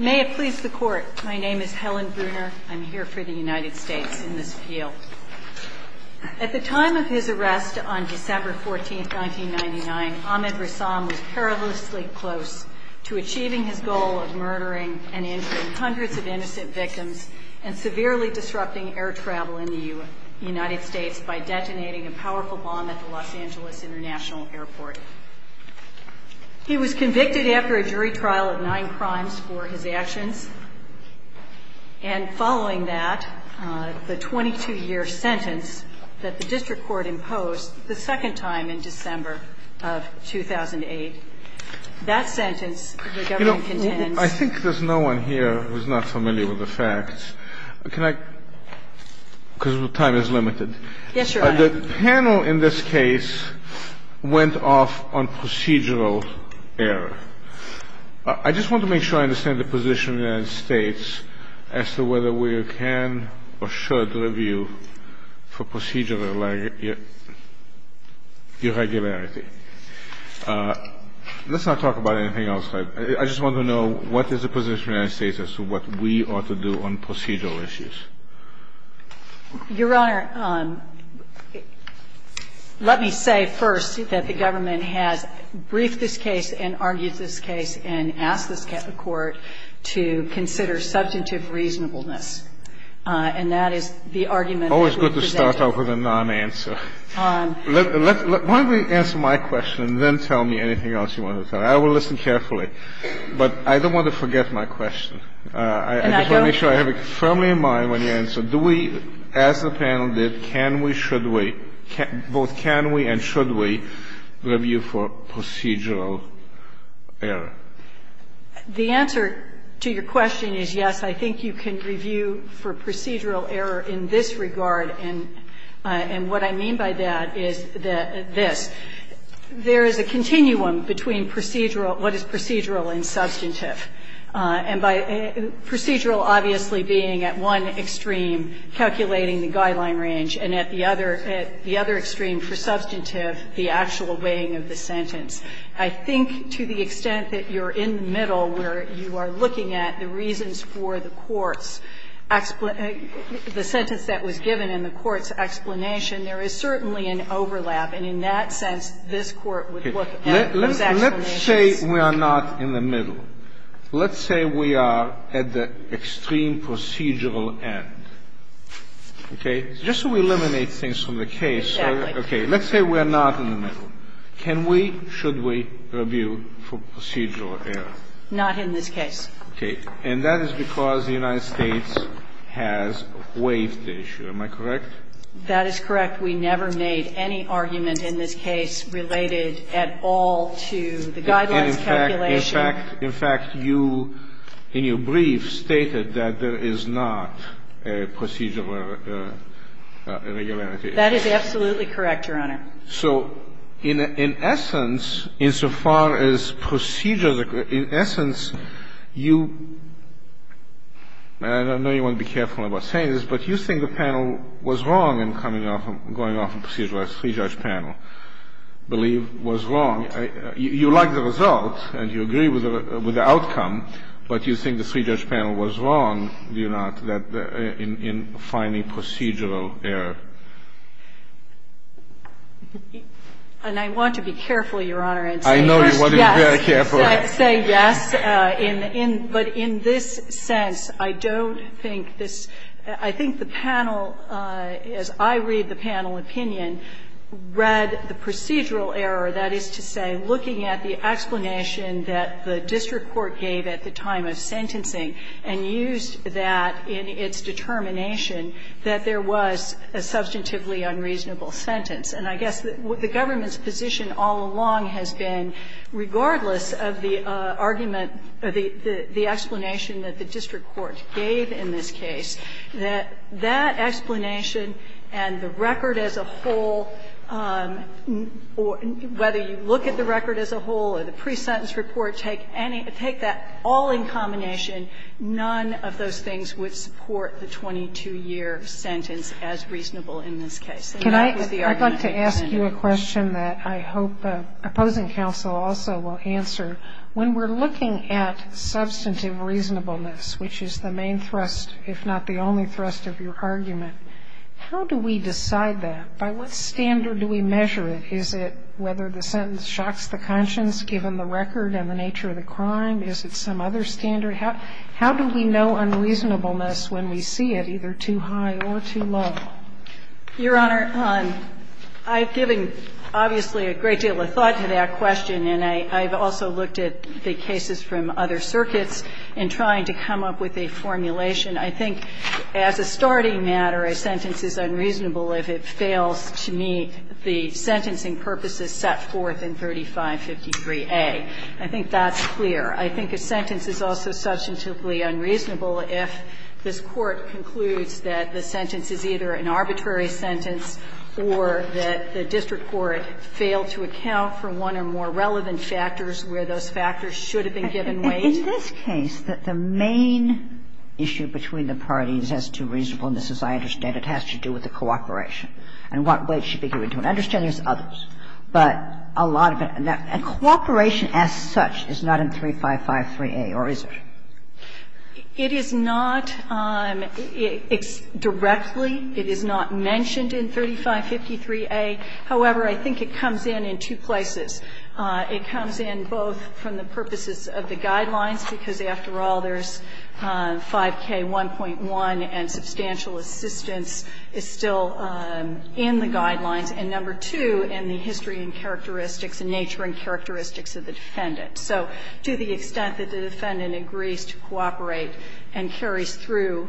May it please the court. My name is Helen Bruner. I'm here for the United States in this appeal. At the time of his arrest on December 14th, 1999, Ahmed Ressam was perilously close to achieving his goal of murdering and injuring hundreds of innocent victims and severely disrupting air travel in the United States by detonating a powerful bomb at the Los Angeles International Airport. He was convicted after a jury trial of nine crimes for his actions, and following that, the 22-year sentence that the district court imposed the second time in December of 2008, that sentence the government contends You know, I think there's no one here who's not familiar with the facts. Can I? Because time is limited. Yes, Your Honor. The panel in this case went off on procedural error. I just want to make sure I understand the position of the United States as to whether we can or should review for procedural irregularity. Let's not talk about anything else. I just want to know what is the position of the United States as to what we ought to do on procedural issues. Your Honor, let me say first that the government has briefed this case and argued this case and asked this Court to consider substantive reasonableness. And that is the argument that we've presented. Always good to start off with a non-answer. Let's – why don't you answer my question and then tell me anything else you want to tell me. I will listen carefully. But I don't want to forget my question. And I don't – I want to make sure I have it firmly in mind when you answer. Do we, as the panel did, can we, should we, both can we and should we review for procedural error? The answer to your question is yes, I think you can review for procedural error in this regard, and what I mean by that is this. There is a continuum between procedural – what is procedural and substantive. And by – procedural obviously being at one extreme, calculating the guideline range, and at the other – at the other extreme for substantive, the actual weighing of the sentence. I think to the extent that you're in the middle where you are looking at the reasons for the court's – the sentence that was given and the court's explanation, there is certainly an overlap. And in that sense, this Court would look at those explanations. Let's say we are not in the middle. Let's say we are at the extreme procedural end. Okay. Just so we eliminate things from the case. Exactly. Okay. Let's say we are not in the middle. Can we, should we, review for procedural error? Not in this case. Okay. And that is because the United States has waived the issue. Am I correct? That is correct. We never made any argument in this case related at all to the guidelines calculation. In fact, you – in your brief stated that there is not a procedural irregularity. That is absolutely correct, Your Honor. So in essence, insofar as procedural – in essence, you – and I know you want to be wrong in coming off – going off a procedural three-judge panel, believe was wrong. You like the result and you agree with the outcome, but you think the three-judge panel was wrong, do you not, in finding procedural error? And I want to be careful, Your Honor, in saying this. I know you want to be very careful. Yes. I say yes. But in this sense, I don't think this – I think the panel, as I read the panel opinion, read the procedural error, that is to say, looking at the explanation that the district court gave at the time of sentencing and used that in its determination that there was a substantively unreasonable sentence. And I guess the government's position all along has been, regardless of the argument or the explanation that the district court gave in this case, that that explanation and the record as a whole, whether you look at the record as a whole or the pre-sentence report, take any – take that all in combination, none of those things would support the 22-year sentence as reasonable in this case. Can I – I'd like to ask you a question that I hope opposing counsel also will answer. When we're looking at substantive reasonableness, which is the main thrust, if not the only thrust of your argument, how do we decide that? By what standard do we measure it? Is it whether the sentence shocks the conscience given the record and the nature of the crime? Is it some other standard? How do we know unreasonableness when we see it either too high or too low? Your Honor, I've given obviously a great deal of thought to that question, and I've also looked at the cases from other circuits in trying to come up with a formulation. I think as a starting matter, a sentence is unreasonable if it fails to meet the sentencing purposes set forth in 3553A. I think that's clear. I think a sentence is also substantively unreasonable if this Court concludes that the sentence is either an arbitrary sentence or that the district court failed to account for one or more relevant factors where those factors should have been given weight. In this case, the main issue between the parties as to reasonableness, as I understand it, has to do with the cooperation and what weight should be given to it. I understand there's others, but a lot of it – and cooperation as such is not in 3553A, or is it? It is not directly. It is not mentioned in 3553A. However, I think it comes in in two places. It comes in both from the purposes of the Guidelines, because after all, there's 5K1.1 and substantial assistance is still in the Guidelines, and number two, in the history and characteristics and nature and characteristics of the defendant. So to the extent that the defendant agrees to cooperate and carries through,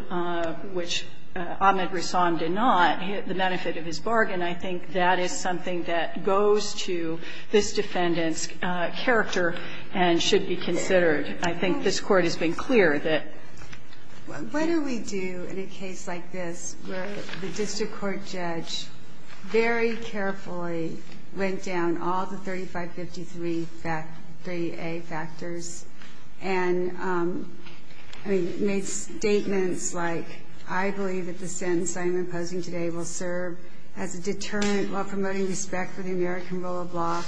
which Ahmed Rousan did not, the benefit of his bargain, I think that is something that goes to this defendant's character and should be considered. I think this Court has been clear that. What do we do in a case like this where the district court judge very carefully went down all the 3553A factors and, I mean, made statements like, I believe that the sentence I am imposing today will serve as a deterrent while promoting respect for the American rule of law,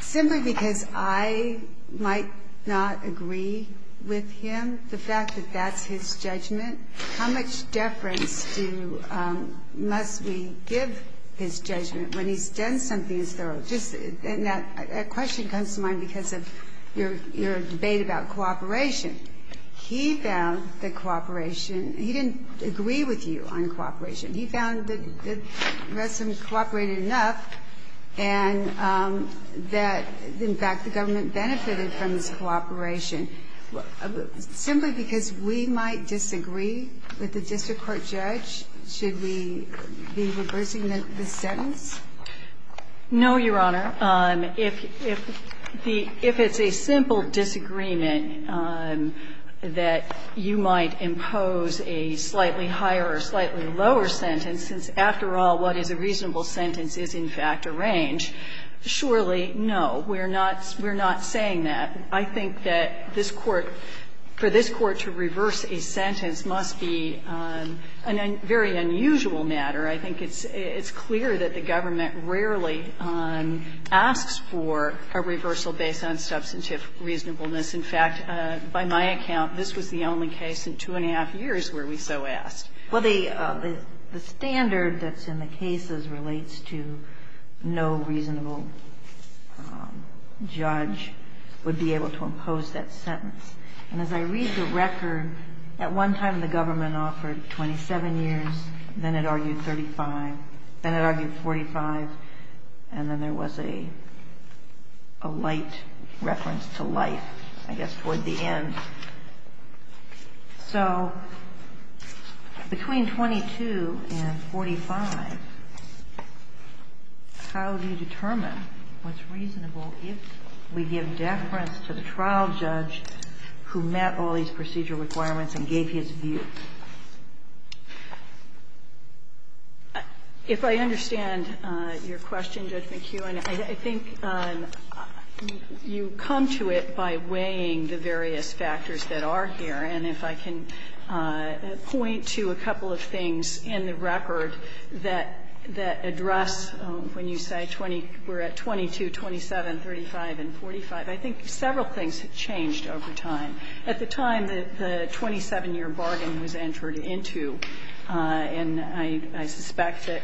simply because I might not agree with him, the fact that that's his judgment? How much deference must we give his judgment when he's done something as thorough as this? And that question comes to mind because of your debate about cooperation. He found that cooperation he didn't agree with you on cooperation. He found that the rest of them cooperated enough and that, in fact, the government benefited from this cooperation. Simply because we might disagree with the district court judge, should we be reversing the sentence? No, Your Honor. If it's a simple disagreement that you might impose a slightly higher or slightly lower sentence, since, after all, what is a reasonable sentence is, in fact, a range, surely no. We're not saying that. I think that this Court, for this Court to reverse a sentence must be a very unusual matter. I think it's clear that the government rarely asks for a reversal based on substantive reasonableness. In fact, by my account, this was the only case in two and a half years where we so asked. Well, the standard that's in the cases relates to no reasonable judge would be able to impose that sentence. And as I read the record, at one time the government offered 27 years, then it argued 35, then it argued 45, and then there was a light reference to life, I guess, toward the end. So between 22 and 45, how do you determine what's reasonable if we give deference to the trial judge who met all these procedure requirements and gave his view? If I understand your question, Judge McHugh, I think you come to it by weighing the various factors that are here. And if I can point to a couple of things in the record that address when you say we're at 22, 27, 35, and 45, I think several things have changed over time. At the time that the 27-year bargain was entered into, and I suspect that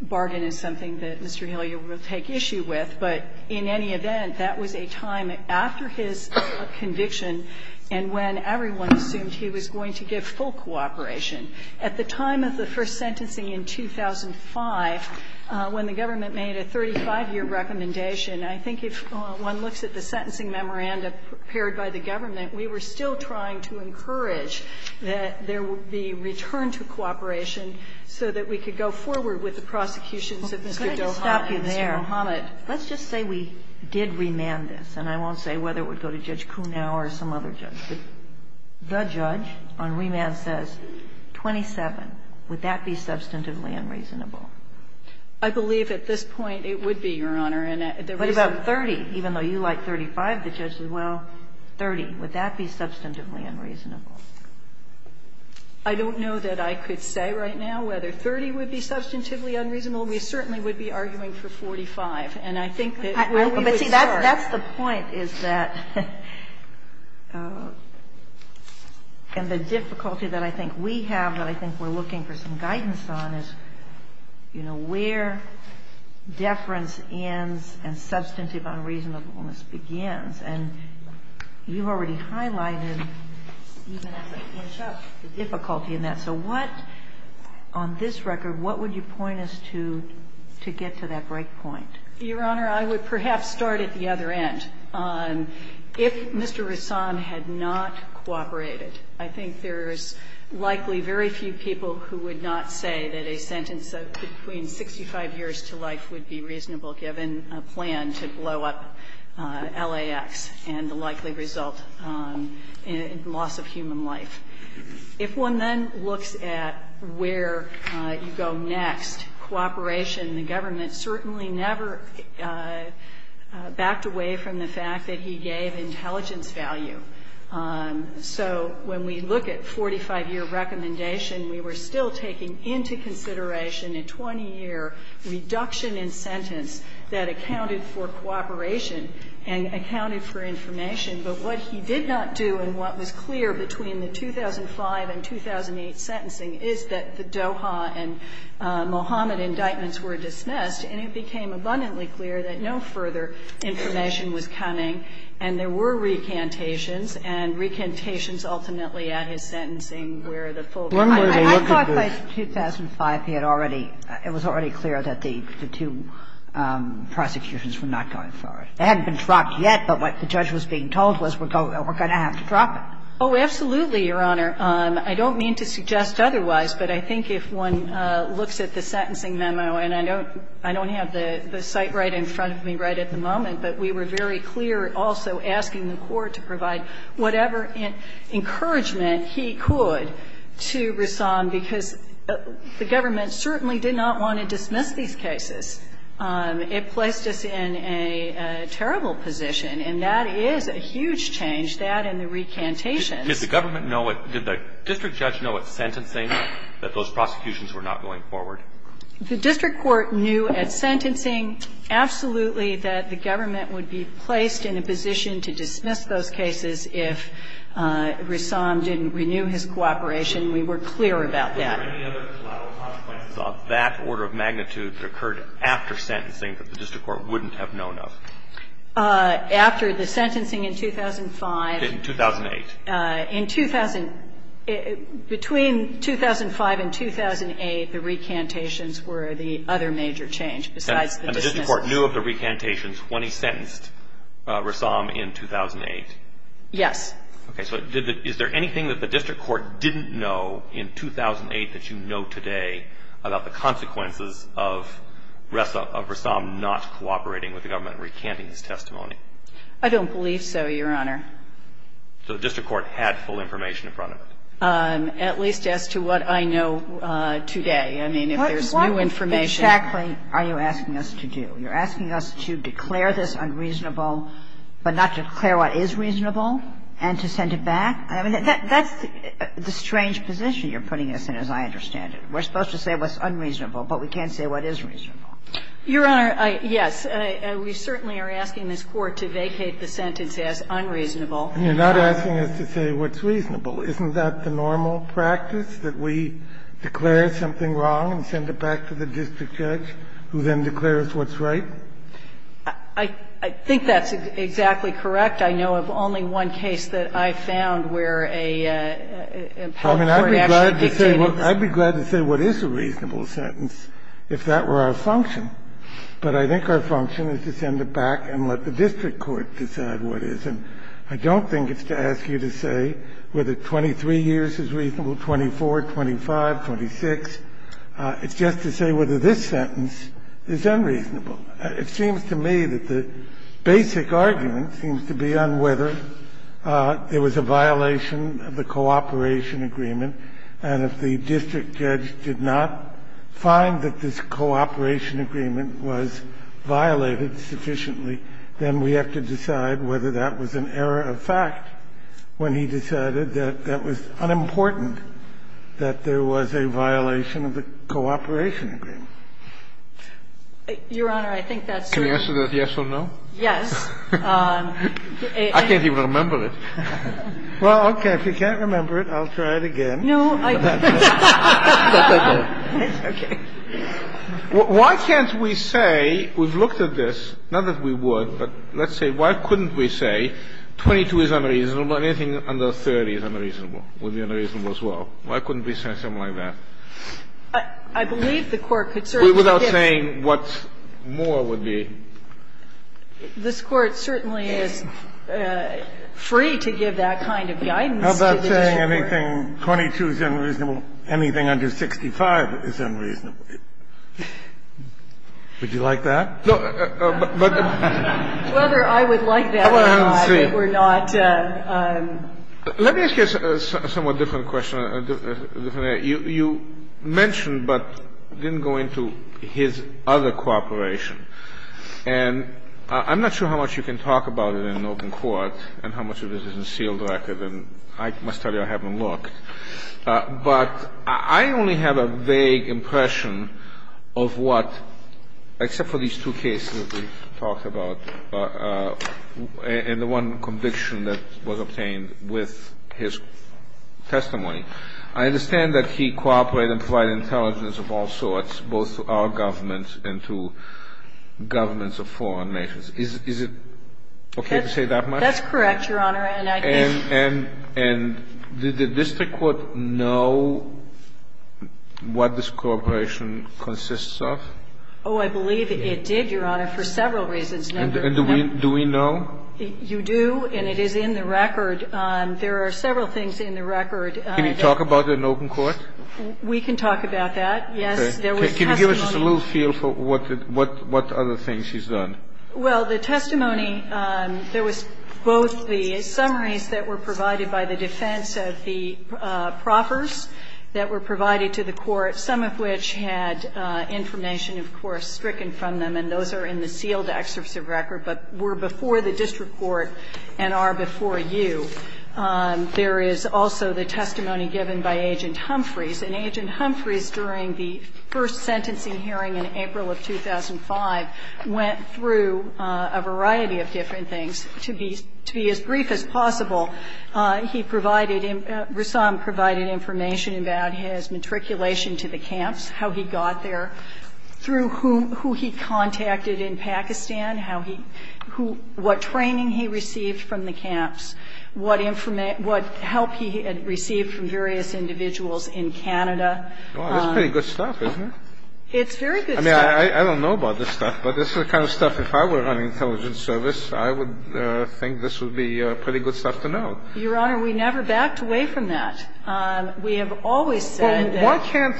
bargain is something that Mr. Hillyer will take issue with, but in any event, that was a time after his conviction and when everyone assumed he was going to give full cooperation. At the time of the first sentencing in 2005, when the government made a 35-year recommendation, I think if one looks at the sentencing memoranda prepared by the government, we were still trying to encourage that there would be return to cooperation so that we could go forward with the prosecutions of Mr. Doha and Mr. Mohamed. Let's just say we did remand this. And I won't say whether it would go to Judge Kuhnow or some other judge. The judge on remand says 27. Would that be substantively unreasonable? I believe at this point it would be, Your Honor. What about 30? Even though you like 35, the judge says, well, 30. Would that be substantively unreasonable? I don't know that I could say right now whether 30 would be substantively unreasonable. We certainly would be arguing for 45. And I think that we would start. But, see, that's the point, is that the difficulty that I think we have, that I think we're looking for some guidance on, is, you know, where deference ends and substantive unreasonableness begins. And you've already highlighted, even as I finish up, the difficulty in that. So what, on this record, what would you point us to to get to that break point? Your Honor, I would perhaps start at the other end. If Mr. Roussan had not cooperated, I think there's likely very few people who would not say that a sentence of between 65 years to life would be reasonable given a plan to blow up LAX. And the likely result, loss of human life. If one then looks at where you go next, cooperation, the government certainly never backed away from the fact that he gave intelligence value. So when we look at 45-year recommendation, we were still taking into consideration a 20-year reduction in sentence that accounted for cooperation and accounted for information. But what he did not do and what was clear between the 2005 and 2008 sentencing is that the Doha and Mohammed indictments were dismissed, and it became abundantly clear that no further information was coming. And there were recantations, and recantations ultimately at his sentencing were the full. I thought by 2005 he had already, it was already clear that the two prosecutions were not going for it. It hadn't been dropped yet, but what the judge was being told was we're going to have to drop it. Oh, absolutely, Your Honor. I don't mean to suggest otherwise, but I think if one looks at the sentencing memo, and I don't have the site right in front of me right at the moment, but we were very clear also asking the Court to provide whatever encouragement he could to Rahsaan because the government certainly did not want to dismiss these cases. It placed us in a terrible position, and that is a huge change, that and the recantations. Did the government know it? Did the district judge know at sentencing that those prosecutions were not going forward? The district court knew at sentencing absolutely that the government would be placed in a position to dismiss those cases if Rahsaan didn't renew his cooperation. We were clear about that. Were there any other collateral consequences of that order of magnitude that occurred after sentencing that the district court wouldn't have known of? After the sentencing in 2005. In 2008. In 2000, between 2005 and 2008, the recantations were the other major change besides the dismissal. And the district court knew of the recantations when he sentenced Rahsaan in 2008? Yes. Okay. So is there anything that the district court didn't know in 2008 that you know today about the consequences of Rahsaan not cooperating with the government in recanting his testimony? I don't believe so, Your Honor. So the district court had full information in front of it? At least as to what I know today. I mean, if there's new information What exactly are you asking us to do? You're asking us to declare this unreasonable, but not declare what is reasonable and to send it back? I mean, that's the strange position you're putting us in, as I understand it. We're supposed to say what's unreasonable, but we can't say what is reasonable. Your Honor, yes. We certainly are asking this Court to vacate the sentence as unreasonable. And you're not asking us to say what's reasonable. Isn't that the normal practice, that we declare something wrong and send it back to the district judge, who then declares what's right? I think that's exactly correct. In fact, I know of only one case that I found where a health court actually vacated the sentence. I'd be glad to say what is a reasonable sentence if that were our function. But I think our function is to send it back and let the district court decide what is. And I don't think it's to ask you to say whether 23 years is reasonable, 24, 25, 26. It's just to say whether this sentence is unreasonable. It seems to me that the basic argument seems to be on whether there was a violation of the cooperation agreement. And if the district judge did not find that this cooperation agreement was violated sufficiently, then we have to decide whether that was an error of fact when he decided that that was unimportant, that there was a violation of the cooperation agreement. Your Honor, I think that's sort of... Can we answer that yes or no? Yes. I can't even remember it. Well, okay. If you can't remember it, I'll try it again. No, I... Why can't we say, we've looked at this, not that we would, but let's say why couldn't we say 22 is unreasonable and anything under 30 is unreasonable would be unreasonable as well. Why couldn't we say something like that? I believe the Court could certainly... But without saying what more would be... This Court certainly is free to give that kind of guidance to the district court. How about saying anything 22 is unreasonable, anything under 65 is unreasonable? Would you like that? No, but... Whether I would like that or not, if it were not... Let me ask you a somewhat different question, a different area. You mentioned but didn't go into his other cooperation. And I'm not sure how much you can talk about it in open court and how much of it is in sealed record, and I must tell you I haven't looked. But I only have a vague impression of what, except for these two cases that we've talked about and the one conviction that was obtained with his testimony, I understand that he cooperated and provided intelligence of all sorts, both to our government and to governments of foreign nations. Is it okay to say that much? That's correct, Your Honor, and I think... And did the district court know what this cooperation consists of? Oh, I believe it did, Your Honor, for several reasons. And do we know? You do, and it is in the record. There are several things in the record. Can you talk about it in open court? We can talk about that, yes. Can you give us just a little feel for what other things he's done? Well, the testimony, there was both the summaries that were provided by the defense of the proffers that were provided to the court, some of which had information, of course, stricken from them, and those are in the sealed excerpts of record, but were before the district court and are before you. There is also the testimony given by Agent Humphreys, and Agent Humphreys, during the first sentencing hearing in April of 2005, went through a variety of different things. To be as brief as possible, he provided... Rassam provided information about his matriculation to the camps, how he got there, through who he contacted in Pakistan, what training he received from the camps, what help he had received from various individuals in Canada. Wow, that's pretty good stuff, isn't it? It's very good stuff. I mean, I don't know about this stuff, but this is the kind of stuff, if I were on intelligence service, I would think this would be pretty good stuff to know. Your Honor, we never backed away from that. We have always said that...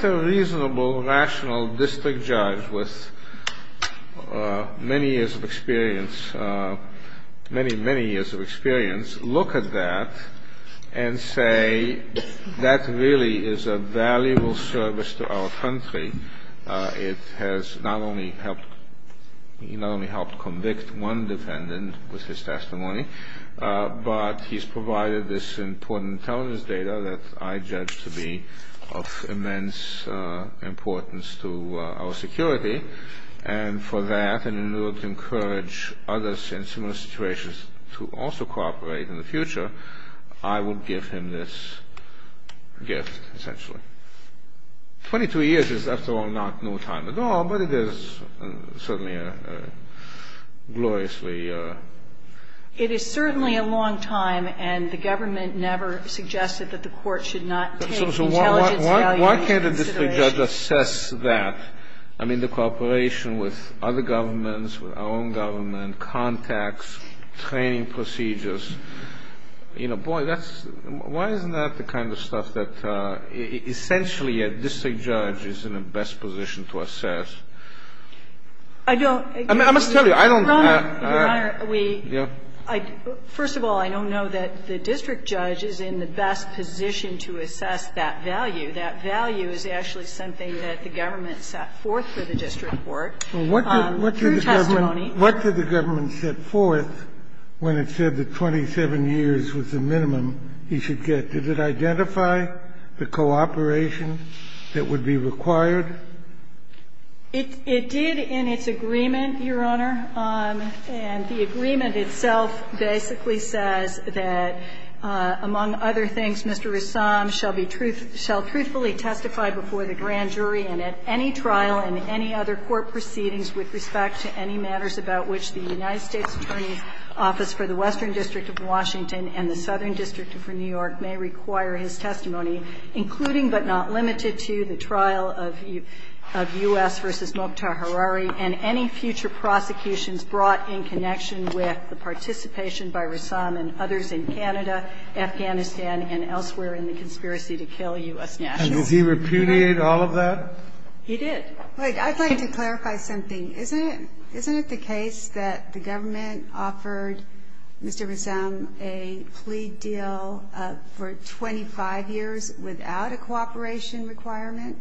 District judge with many years of experience, many, many years of experience, look at that and say, that really is a valuable service to our country. It has not only helped convict one defendant with his testimony, but he's provided this important intelligence data that I judge to be of immense importance to our security, and for that, and in order to encourage others in similar situations to also cooperate in the future, I would give him this gift, essentially. Twenty-two years is, after all, not no time at all, but it is certainly a gloriously... It is certainly a long time, and the government never suggested that the court should not take intelligence value into consideration. Why can't a district judge assess that? I mean, the cooperation with other governments, with our own government, contacts, training procedures. You know, boy, why isn't that the kind of stuff that, essentially, a district judge is in a best position to assess? I don't... I must tell you, I don't... Your Honor, we... Yes. First of all, I don't know that the district judge is in the best position to assess that value. That value is actually something that the government set forth for the district court through testimony. What did the government set forth when it said that 27 years was the minimum he should get? Did it identify the cooperation that would be required? It did in its agreement, Your Honor, and the agreement itself basically says that, among other things, Mr. Roussam shall truthfully testify before the grand jury and at any trial and any other court proceedings with respect to any matters about which the United States Attorney's Office for the Western District of Washington and the Southern District for New York may require his testimony, including but not limited to the trial of U.S. v. Mokhtar Harari and any future prosecutions brought in connection with the participation by Roussam and others in Canada, Afghanistan, and elsewhere in the conspiracy to kill U.S. nationals. And did he repudiate all of that? He did. Wait, I'd like to clarify something. Isn't it the case that the government offered Mr. Roussam a plea deal for 25 years without a cooperation requirement?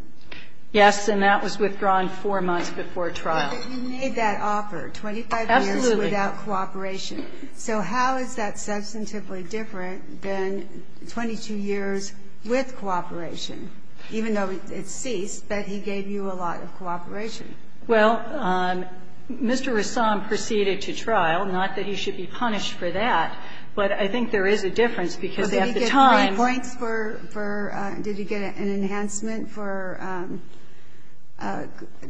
Yes, and that was withdrawn four months before trial. But you made that offer, 25 years without cooperation. Absolutely. So how is that substantively different than 22 years with cooperation, even though it ceased, but he gave you a lot of cooperation? Well, Mr. Roussam proceeded to trial. Not that he should be punished for that, but I think there is a difference because they have the time. But did he get three points for, did he get an enhancement for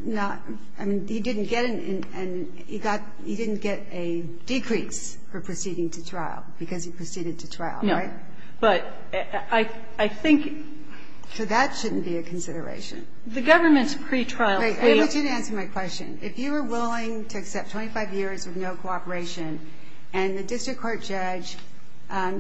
not, I mean, he didn't get an, he got, he didn't get a decrease for proceeding to trial because he proceeded to trial, right? No. But I think. So that shouldn't be a consideration. The government's pretrial plea. Wait, I want you to answer my question. If you were willing to accept 25 years with no cooperation and the district court judge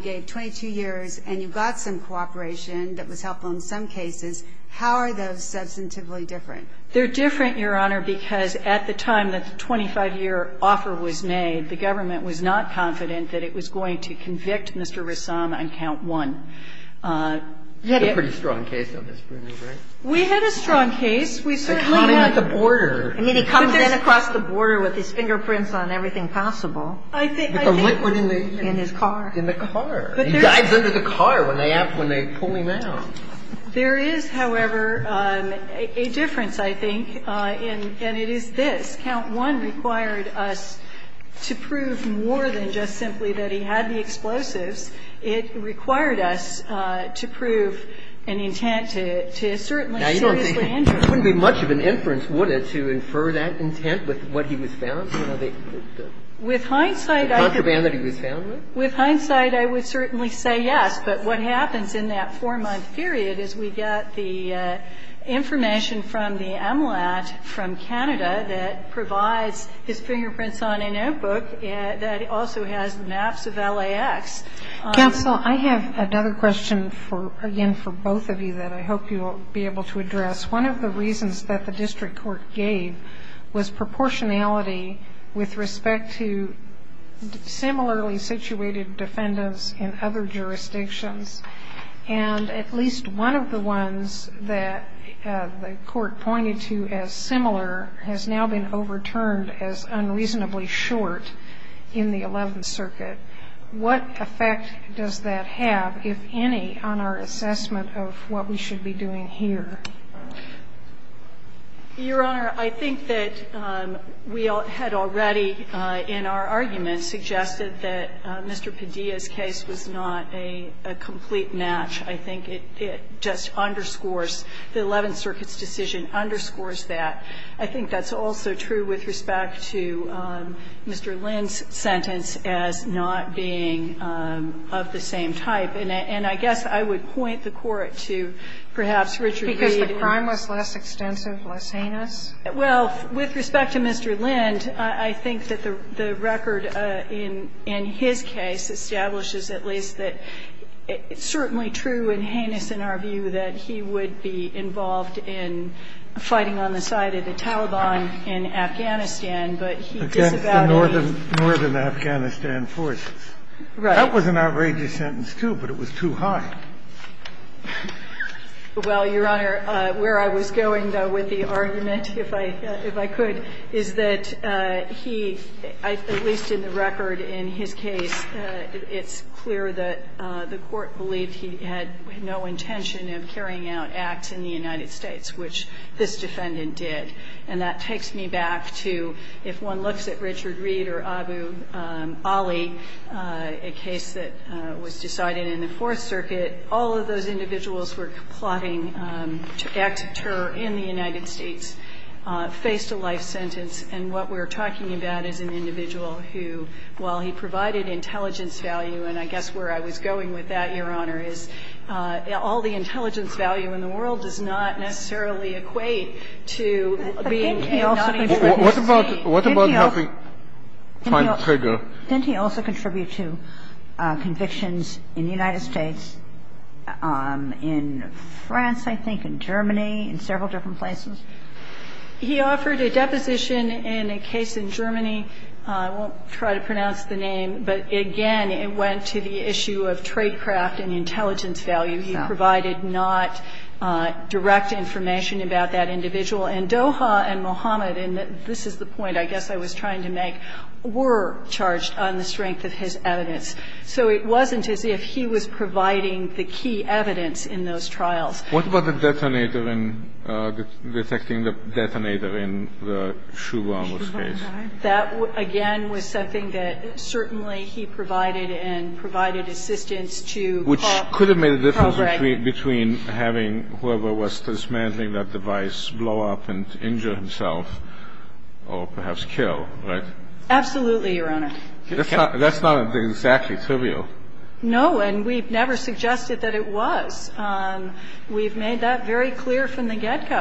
gave 22 years and you got some cooperation that was helpful in some cases, how are those substantively different? They're different, Your Honor, because at the time that the 25-year offer was made, the government was not confident that it was going to convict Mr. Roussam on count one. You had a pretty strong case on this, right? We had a strong case. I mean, he comes in across the border with his fingerprints on everything possible. With the liquid in the. In his car. In the car. He dives under the car when they pull him out. There is, however, a difference, I think, and it is this. Count one required us to prove more than just simply that he had the explosives. It required us to prove an intent to certainly seriously injure him. Now, it wouldn't be much of an inference, would it, to infer that intent with what he was found? Because, you know, the. With hindsight. The contraband that he was found with. With hindsight, I would certainly say yes. But what happens in that four-month period is we get the information from the MLAT from Canada that provides his fingerprints on a notebook that also has maps of LAX. Counsel, I have another question for, again, for both of you that I hope you'll be able to address. One of the reasons that the district court gave was proportionality with respect to similarly situated defendants in other jurisdictions. And at least one of the ones that the court pointed to as similar has now been overturned as unreasonably short in the 11th Circuit. What effect does that have, if any, on our assessment of what we should be doing here? Your Honor, I think that we had already in our argument suggested that Mr. Padilla's case was not a complete match. I think it just underscores the 11th Circuit's decision underscores that. I think that's also true with respect to Mr. Lind's sentence as not being of the same type. And I guess I would point the Court to perhaps Richard Reed. Because the crime was less extensive, less heinous? Well, with respect to Mr. Lind, I think that the record in his case establishes at least that it's certainly true and heinous in our view that he would be involved in fighting on the side of the Taliban in Afghanistan. But he disavowed it. Against the northern Afghanistan forces. Right. That was an outrageous sentence, too, but it was too high. Well, Your Honor, where I was going, though, with the argument, if I could, is that he, at least in the record in his case, it's clear that the Court believed he had no intention of carrying out acts in the United States, which this defendant did. And that takes me back to if one looks at Richard Reed or Abu Ali, a case that was decided in the Fourth Circuit, all of those individuals were plotting acts of terror in the United States, faced a life sentence. And what we're talking about is an individual who, while he provided intelligence value, and I guess where I was going with that, Your Honor, is all the intelligence value in the world does not necessarily equate to being a non-intruder. What about helping find a trigger? Didn't he also contribute to convictions in the United States, in France, I think, in Germany, in several different places? He offered a deposition in a case in Germany. I won't try to pronounce the name, but, again, it went to the issue of tradecraft and intelligence value. He provided not direct information about that individual. And Doha and Mohammed, and this is the point I guess I was trying to make, were charged on the strength of his evidence. So it wasn't as if he was providing the key evidence in those trials. What about the detonator and detecting the detonator in the Shuba, in this case? That, again, was something that certainly he provided and provided assistance to Carl Gregg. Which could have made a difference between having whoever was dismantling that device blow up and injure himself or perhaps kill, right? Absolutely, Your Honor. That's not exactly trivial. No. And we've never suggested that it was. We've made that very clear from the get-go.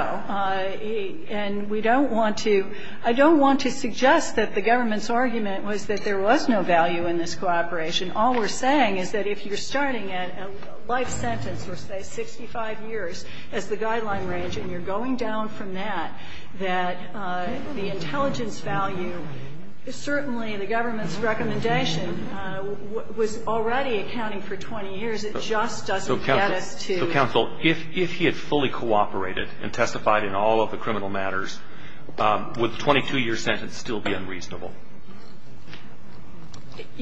And we don't want to – I don't want to suggest that the government's argument was that there was no value in this cooperation. All we're saying is that if you're starting a life sentence or, say, 65 years as the guideline range, and you're going down from that, that the intelligence value is certainly the government's recommendation was already accounting for 20 years. It just doesn't get us to –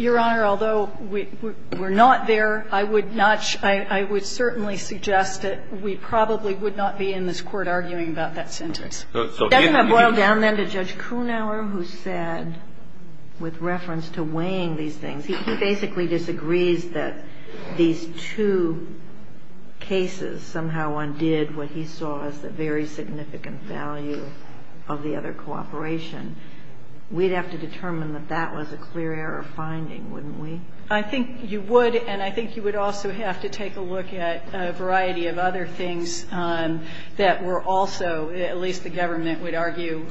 Your Honor, although we're not there, I would not – I would certainly suggest that we probably would not be in this court arguing about that sentence. So if you – Let me boil down, then, to Judge Kuhnauer, who said, with reference to weighing these things – he basically disagrees that these two cases somehow undid what he saw as the very significant difference. significant value of the other cooperation. We'd have to determine that that was a clear error finding, wouldn't we? I think you would, and I think you would also have to take a look at a variety of other things that were also, at least the government would argue,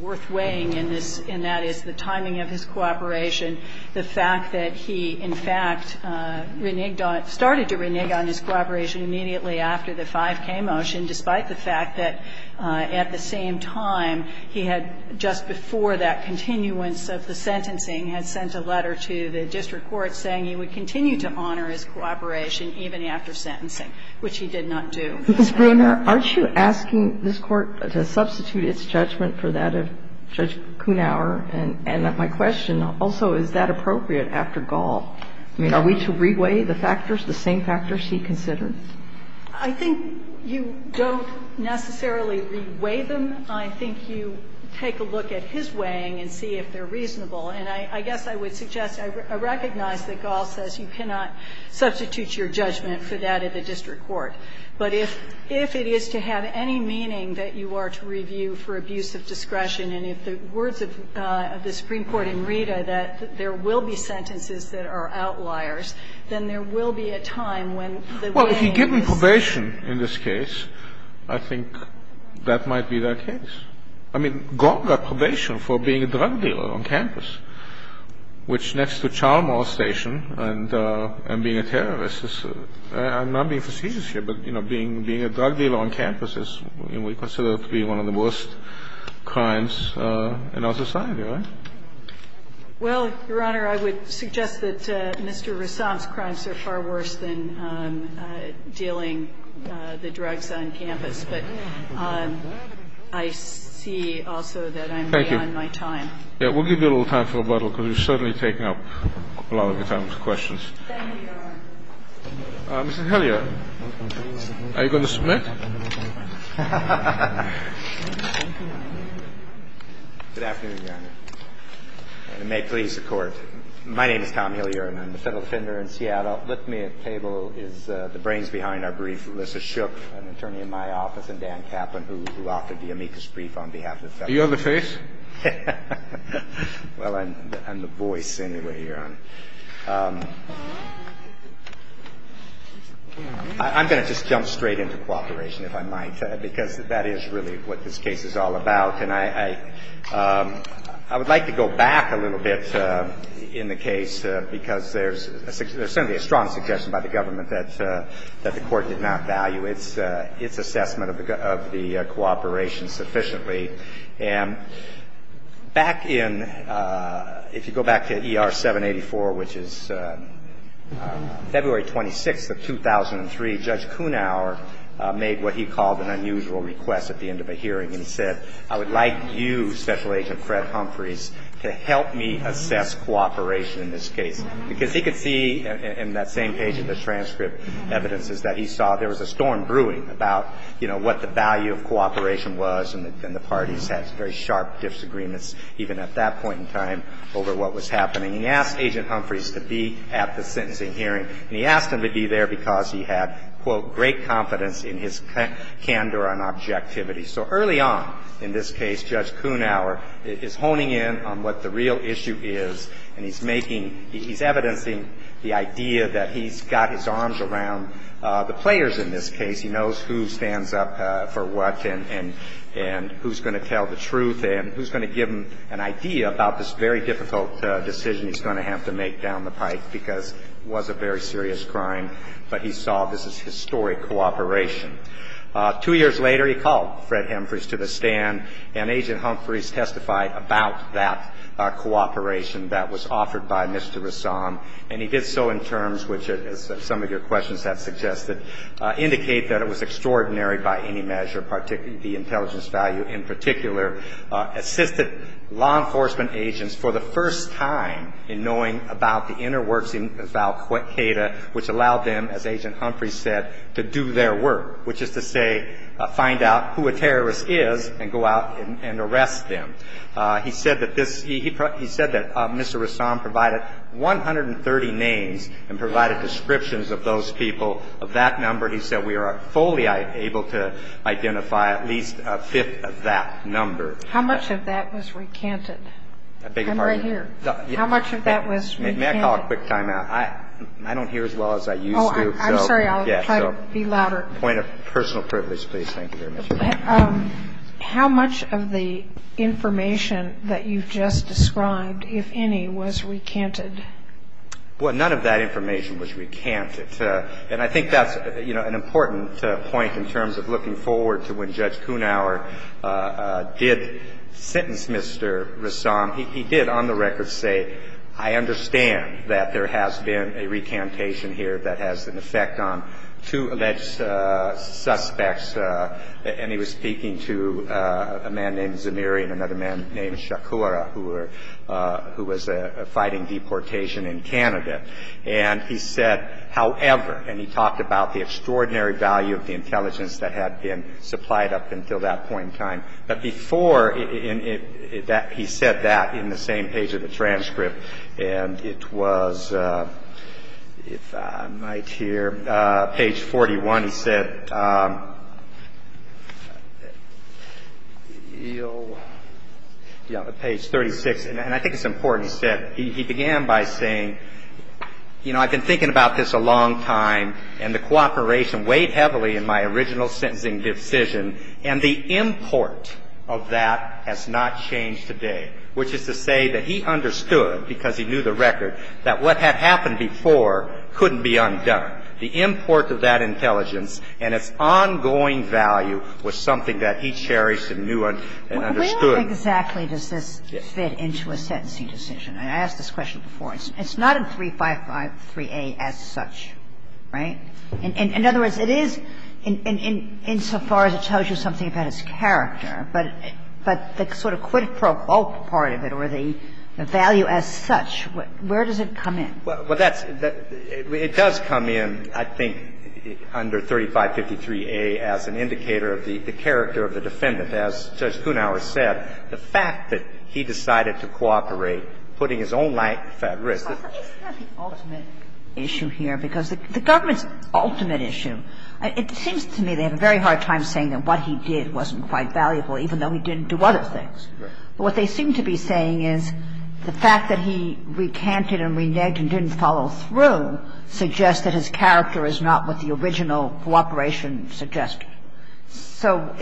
worth weighing in this. And that is the timing of his cooperation, the fact that he, in fact, started to renege on his cooperation immediately after the 5K motion, despite the fact that, at the same time, he had, just before that continuance of the sentencing, had sent a letter to the district court saying he would continue to honor his cooperation even after sentencing, which he did not do. Ms. Bruner, aren't you asking this Court to substitute its judgment for that of Judge Kuhnauer? And my question also, is that appropriate after Gall? I mean, are we to re-weigh the factors, the same factors he considered? I think you don't necessarily re-weigh them. I think you take a look at his weighing and see if they're reasonable. And I guess I would suggest, I recognize that Gall says you cannot substitute your judgment for that of the district court. But if it is to have any meaning that you are to review for abuse of discretion, and if the words of the Supreme Court in Rita, that there will be sentences that are outliers, then there will be a time when the weighing is... Well, if you're giving probation in this case, I think that might be that case. I mean, Gall got probation for being a drug dealer on campus, which, next to Charlemont Station, and being a terrorist is, I'm not being facetious here, but, you know, being a drug dealer on campus is, we consider it to be one of the worst crimes in our society, right? Well, Your Honor, I would suggest that Mr. Rassam's crimes are far worse than dealing the drugs on campus. But I see also that I'm beyond my time. Thank you. Yeah, we'll give you a little time for rebuttal, because you've certainly taken up a lot of the time for questions. Thank you, Your Honor. Mrs. Helliard, are you going to submit? Good afternoon, Your Honor. And it may please the Court. My name is Tom Helliard, and I'm a federal defender in Seattle. With me at the table is the brains behind our brief, Alyssa Shook, an attorney in my office, and Dan Kaplan, who offered the amicus brief on behalf of the federal... Are you on the face? Well, I'm the voice, anyway, Your Honor. I'm going to just jump straight into cooperation. If I might, because that is really what this case is all about. And I would like to go back a little bit in the case, because there's certainly a strong suggestion by the government that the Court did not value its assessment of the cooperation sufficiently. And back in, if you go back to ER 784, which is February 26th of 2003, Judge Kunauer made what he called an unusual request at the end of a hearing. And he said, I would like you, Special Agent Fred Humphreys, to help me assess cooperation in this case. Because he could see in that same page of the transcript evidences that he saw there was a storm brewing about, you know, what the value of cooperation was. And the parties had very sharp disagreements, even at that point in time, over what was happening. He asked Agent Humphreys to be at the sentencing hearing. And he asked him to be there because he had, quote, great confidence in his candor and objectivity. So early on in this case, Judge Kunauer is honing in on what the real issue is, and he's making, he's evidencing the idea that he's got his arms around the players in this case. He knows who stands up for what, and who's going to tell the truth, and who's going to give him an idea about this very difficult decision he's going to have to make down the pike because it was a very serious crime. But he saw this as historic cooperation. Two years later, he called Fred Humphreys to the stand, and Agent Humphreys testified about that cooperation that was offered by Mr. Rassam. And he did so in terms which, as some of your questions have suggested, indicate that it was extraordinary by any measure, particularly the intelligence value in particular, assisted law enforcement agents for the first time in knowing about the inner works of Al-Qaeda, which allowed them, as Agent Humphreys said, to do their work, which is to say find out who a terrorist is and go out and arrest them. He said that this, he said that Mr. Rassam provided 130 names and provided descriptions of those people. Of that number, he said, we are fully able to identify at least a fifth of that number. How much of that was recanted? I'm right here. How much of that was recanted? May I call a quick time out? I don't hear as well as I used to. Oh, I'm sorry. I'll try to be louder. Point of personal privilege, please. Thank you very much. How much of the information that you've just described, if any, was recanted? Well, none of that information was recanted. And I think that's an important point in terms of looking forward to when Judge Humphreys would say, I understand that there has been a recantation here that has an effect on two alleged suspects. And he was speaking to a man named Zamiri and another man named Shakura, who were, who was fighting deportation in Canada. And he said, however, and he talked about the extraordinary value of the But before, he said that in the same page of the transcript. And it was, if I might here, page 41, he said, page 36. And I think it's important he said, he began by saying, you know, I've been thinking about this a long time. And the cooperation weighed heavily in my original sentencing decision. And the import of that has not changed today, which is to say that he understood because he knew the record, that what had happened before couldn't be undone. The import of that intelligence and its ongoing value was something that he cherished and knew and understood. Where exactly does this fit into a sentencing decision? I asked this question before. It's not in 353A as such, right? In other words, it is in so far as it tells you something about his character, but the sort of quid pro quo part of it or the value as such, where does it come in? Well, that's the – it does come in, I think, under 3553A as an indicator of the character of the defendant. As Judge Kunauer said, the fact that he decided to cooperate, putting his own life at risk. But isn't that the ultimate issue here? Because the government's ultimate issue. It seems to me they have a very hard time saying that what he did wasn't quite valuable, even though he didn't do other things. But what they seem to be saying is the fact that he recanted and reneged and didn't follow through suggests that his character is not what the original cooperation suggested. So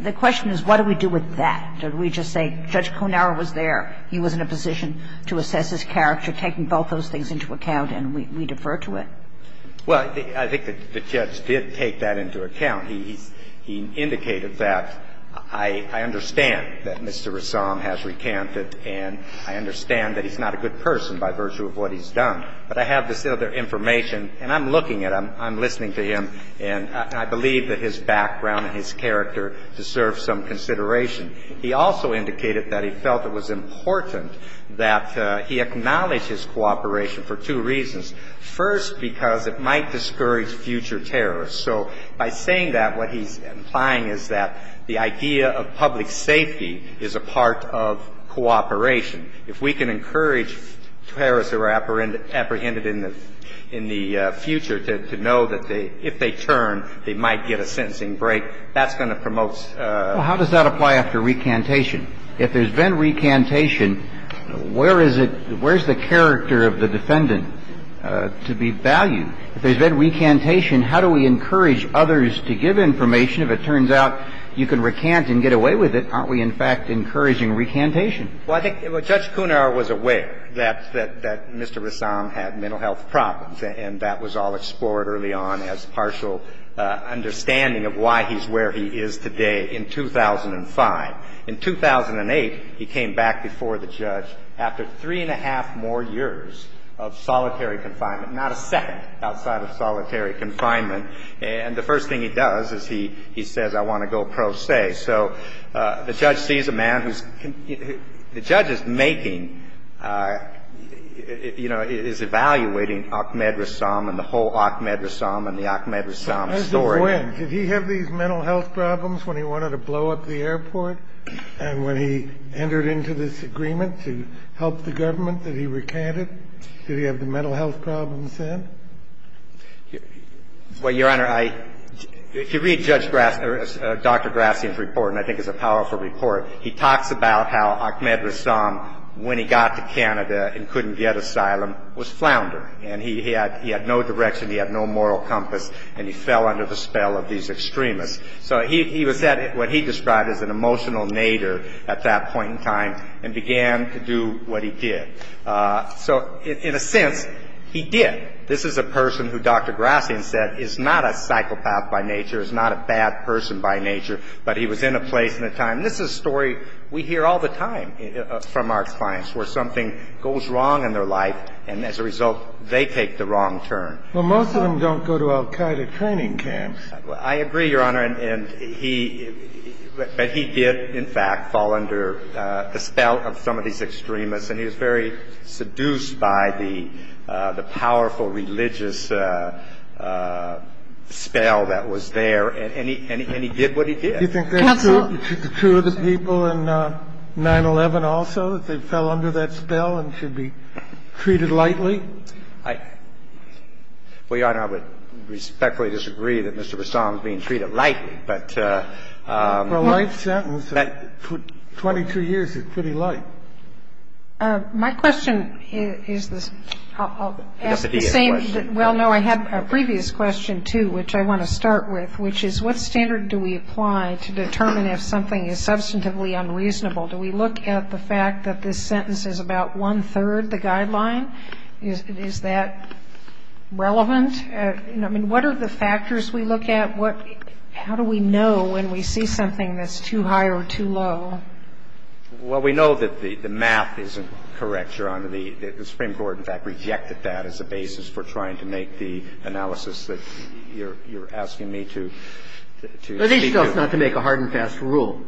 the question is, what do we do with that? Do we just say, Judge Kunauer was there, he was in a position to assess his character, taking both those things into account, and we defer to it? Well, I think the judge did take that into account. He indicated that I understand that Mr. Rassam has recanted and I understand that he's not a good person by virtue of what he's done. But I have this other information, and I'm looking at him, I'm listening to him, and I believe that his background and his character deserve some consideration. He also indicated that he felt it was important that he acknowledge his cooperation for two reasons. First, because it might discourage future terrorists. So by saying that, what he's implying is that the idea of public safety is a part of cooperation. If we can encourage terrorists that are apprehended in the future to know that if they turn, they might get a sentencing break, that's going to promote Well, how does that apply after recantation? If there's been recantation, where is it, where's the character of the defendant to be valued? If there's been recantation, how do we encourage others to give information if it turns out you can recant and get away with it? Aren't we, in fact, encouraging recantation? Well, I think Judge Kunauer was aware that Mr. Rassam had mental health problems, and that was all explored early on as partial understanding of why he's where he is today in 2005. In 2008, he came back before the judge after three and a half more years of solitary confinement, not a second outside of solitary confinement. And the first thing he does is he says, I want to go pro se. So the judge sees a man who's the judge is making, you know, is evaluating Ahmed Rassam and the whole Ahmed Rassam and the Ahmed Rassam story. Did he have these mental health problems when he wanted to blow up the airport and when he entered into this agreement to help the government that he recanted? Did he have the mental health problems then? Well, Your Honor, if you read Dr. Grassi's report, and I think it's a powerful report, he talks about how Ahmed Rassam, when he got to Canada and couldn't get asylum, was floundering. And he had no direction, he had no moral compass, and he fell under the spell of these extremists. So he was at what he described as an emotional nadir at that point in time and began to do what he did. So in a sense, he did. This is a person who Dr. Grassi has said is not a psychopath by nature, is not a bad person by nature, but he was in a place and a time. This is a story we hear all the time from our clients where something goes wrong in their life and, as a result, they take the wrong turn. Well, most of them don't go to al-Qaeda training camps. I agree, Your Honor. But he did, in fact, fall under the spell of some of these extremists and he was very seduced by the powerful religious spell that was there and he did what he did. Do you think that's true of the people in 9-11 also, that they fell under that spell and should be treated lightly? Well, Your Honor, I would respectfully disagree that Mr. Bassam is being treated lightly, but... For a life sentence, 22 years is pretty light. My question is the same. Well, no, I had a previous question, too, which I want to start with, which is what standard do we apply to determine if something is substantively unreasonable? Do we look at the fact that this sentence is about one-third the guideline? Is that relevant? I mean, what are the factors we look at? How do we know when we see something that's too high or too low? Well, we know that the math isn't correct, Your Honor. The Supreme Court, in fact, rejected that as a basis for trying to make the analysis that you're asking me to speak to. Well, at least it helps not to make a hard and fast rule.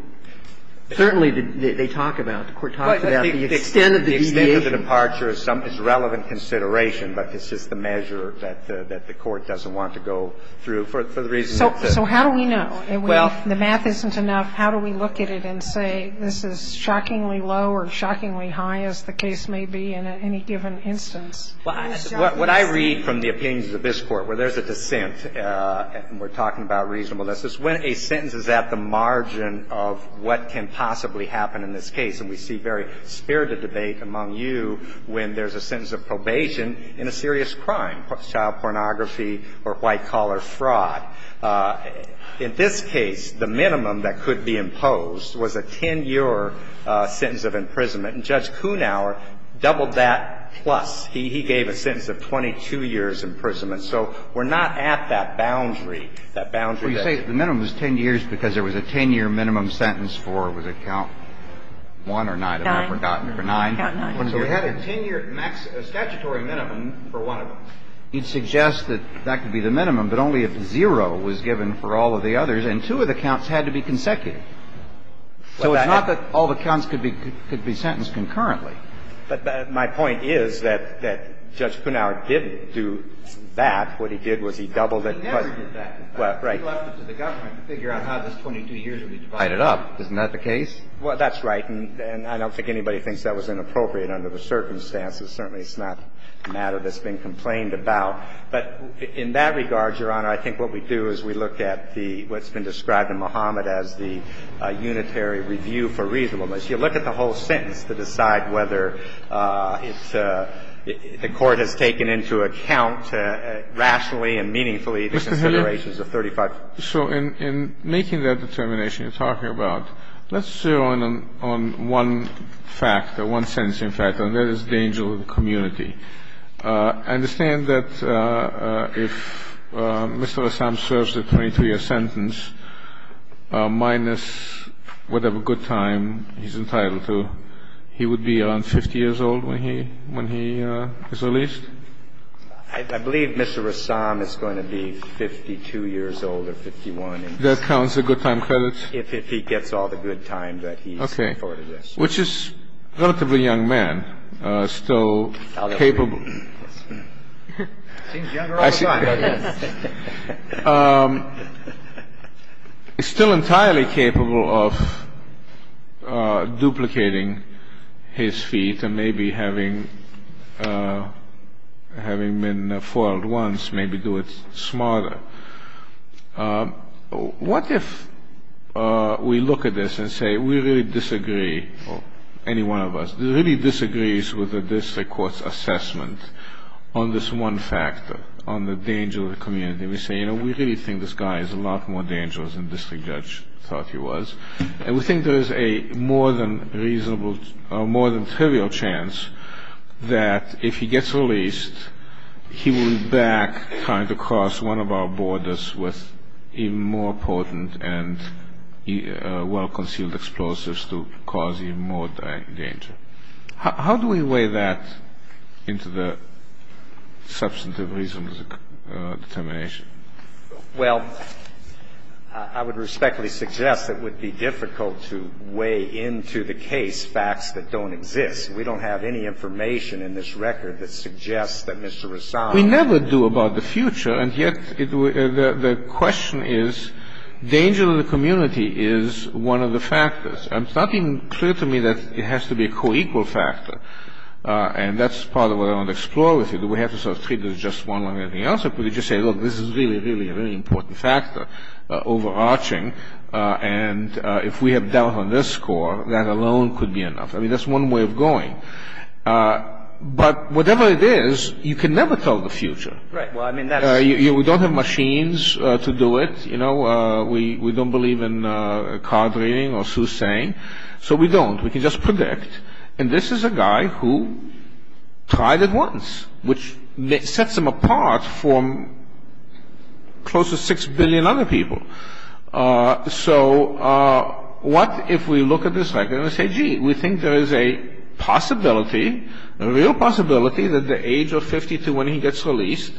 Certainly, they talk about, the Court talks about the extent of the deviation. The extent of the departure is relevant consideration, but it's just the measure that the Court doesn't want to go through for the reason that the... So how do we know? Well... If the math isn't enough, how do we look at it and say this is shockingly low or shockingly high, as the case may be in any given instance? What I read from the opinions of this Court, where there's a dissent, and we're at the margin of what can possibly happen in this case. And we see very spirited debate among you when there's a sentence of probation in a serious crime, child pornography or white-collar fraud. In this case, the minimum that could be imposed was a 10-year sentence of imprisonment. And Judge Kunauer doubled that plus. He gave a sentence of 22 years' imprisonment. So we're not at that boundary, that boundary that... Because there was a 10-year minimum sentence for, was it count 1 or 9? 9. 9. So we had a 10-year statutory minimum for one of them. It suggests that that could be the minimum, but only if zero was given for all of the others, and two of the counts had to be consecutive. So it's not that all the counts could be sentenced concurrently. But my point is that Judge Kunauer didn't do that. What he did was he doubled it plus. He never did that. Right. He left it to the government to figure out how this 22 years would be divided up. Heightened up. Isn't that the case? Well, that's right. And I don't think anybody thinks that was inappropriate under the circumstances. Certainly it's not a matter that's been complained about. But in that regard, Your Honor, I think what we do is we look at the, what's been described in Muhammad as the unitary review for reasonableness. You look at the whole sentence to decide whether it's, the Court has taken into account rationally and meaningfully the considerations of 35. Mr. Hilliard, so in making that determination you're talking about, let's zero in on one fact or one sentencing fact, and that is danger to the community. I understand that if Mr. Assam serves the 22-year sentence minus whatever good time he's entitled to, he would be around 50 years old when he is released? I believe Mr. Assam is going to be 52 years old or 51. That counts as good time credits? If he gets all the good time that he's afforded. Okay. Which is a relatively young man, still capable. Seems younger all the time. Still entirely capable of duplicating his feet and maybe having been foiled once, maybe do it smarter. What if we look at this and say we really disagree, or any one of us, really disagrees with the district court's assessment on this one factor, on the danger to the community. We say, you know, we really think this guy is a lot more dangerous than the district judge thought he was. And we think there is a more than reasonable, more than trivial chance that if he gets released he will be back trying to cross one of our borders with even more potent and well-concealed explosives to cause even more danger. How do we weigh that into the substantive reasons of determination? Well, I would respectfully suggest it would be difficult to weigh into the case facts that don't exist. We don't have any information in this record that suggests that Mr. Assam We never do about the future. And yet the question is, danger to the community is one of the factors. And it's not even clear to me that it has to be a co-equal factor. And that's part of what I want to explore with you. Do we have to sort of treat it as just one or anything else? Or could we just say, look, this is really, really a very important factor, overarching, and if we have doubt on this score, that alone could be enough. I mean, that's one way of going. But whatever it is, you can never tell the future. We don't have machines to do it. You know, we don't believe in card reading or soothsaying. So we don't. We can just predict. And this is a guy who tried it once, which sets him apart from close to 6 billion other people. So what if we look at this record and say, gee, we think there is a possibility, a real possibility that at the age of 52, when he gets released,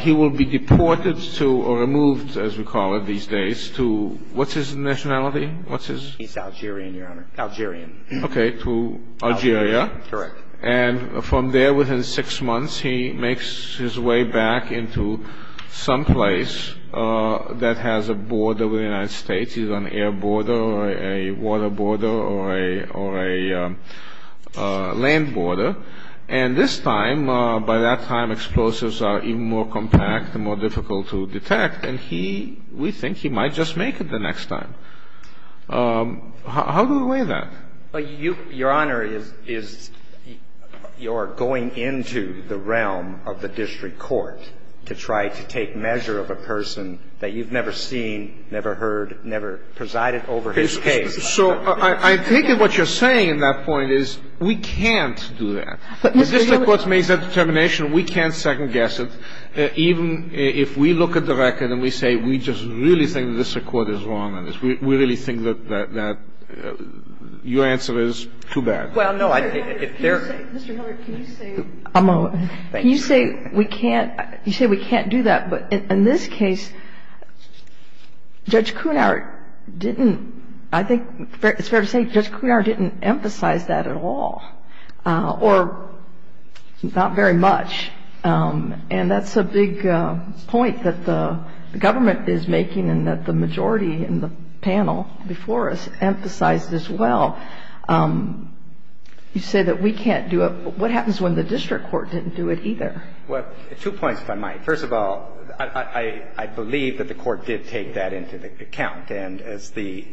he will be deported to or removed, as we call it these days, to what's his nationality? What's his? He's Algerian, Your Honor. Algerian. Okay. To Algeria. Correct. And from there, within six months, he makes his way back into someplace that has a border with the United States. He's on an air border or a water border or a land border. And this time, by that time, explosives are even more compact and more difficult to detect. And we think he might just make it the next time. How do we weigh that? Your Honor, you're going into the realm of the district court to try to take measure of a person that you've never seen, never heard, never presided over his case. So I think what you're saying in that point is we can't do that. The district court makes that determination. We can't second-guess it. Even if we look at the record and we say we just really think the district court is wrong on this, we really think that your answer is too bad. Well, no. Mr. Hilliard, can you say we can't do that? But in this case, Judge Kuhnert didn't, I think it's fair to say Judge Kuhnert didn't emphasize that at all or not very much. And that's a big point that the government is making and that the majority in the panel before us emphasized as well. You say that we can't do it. What happens when the district court didn't do it either? Well, two points, if I might. First of all, I believe that the court did take that into account. And as the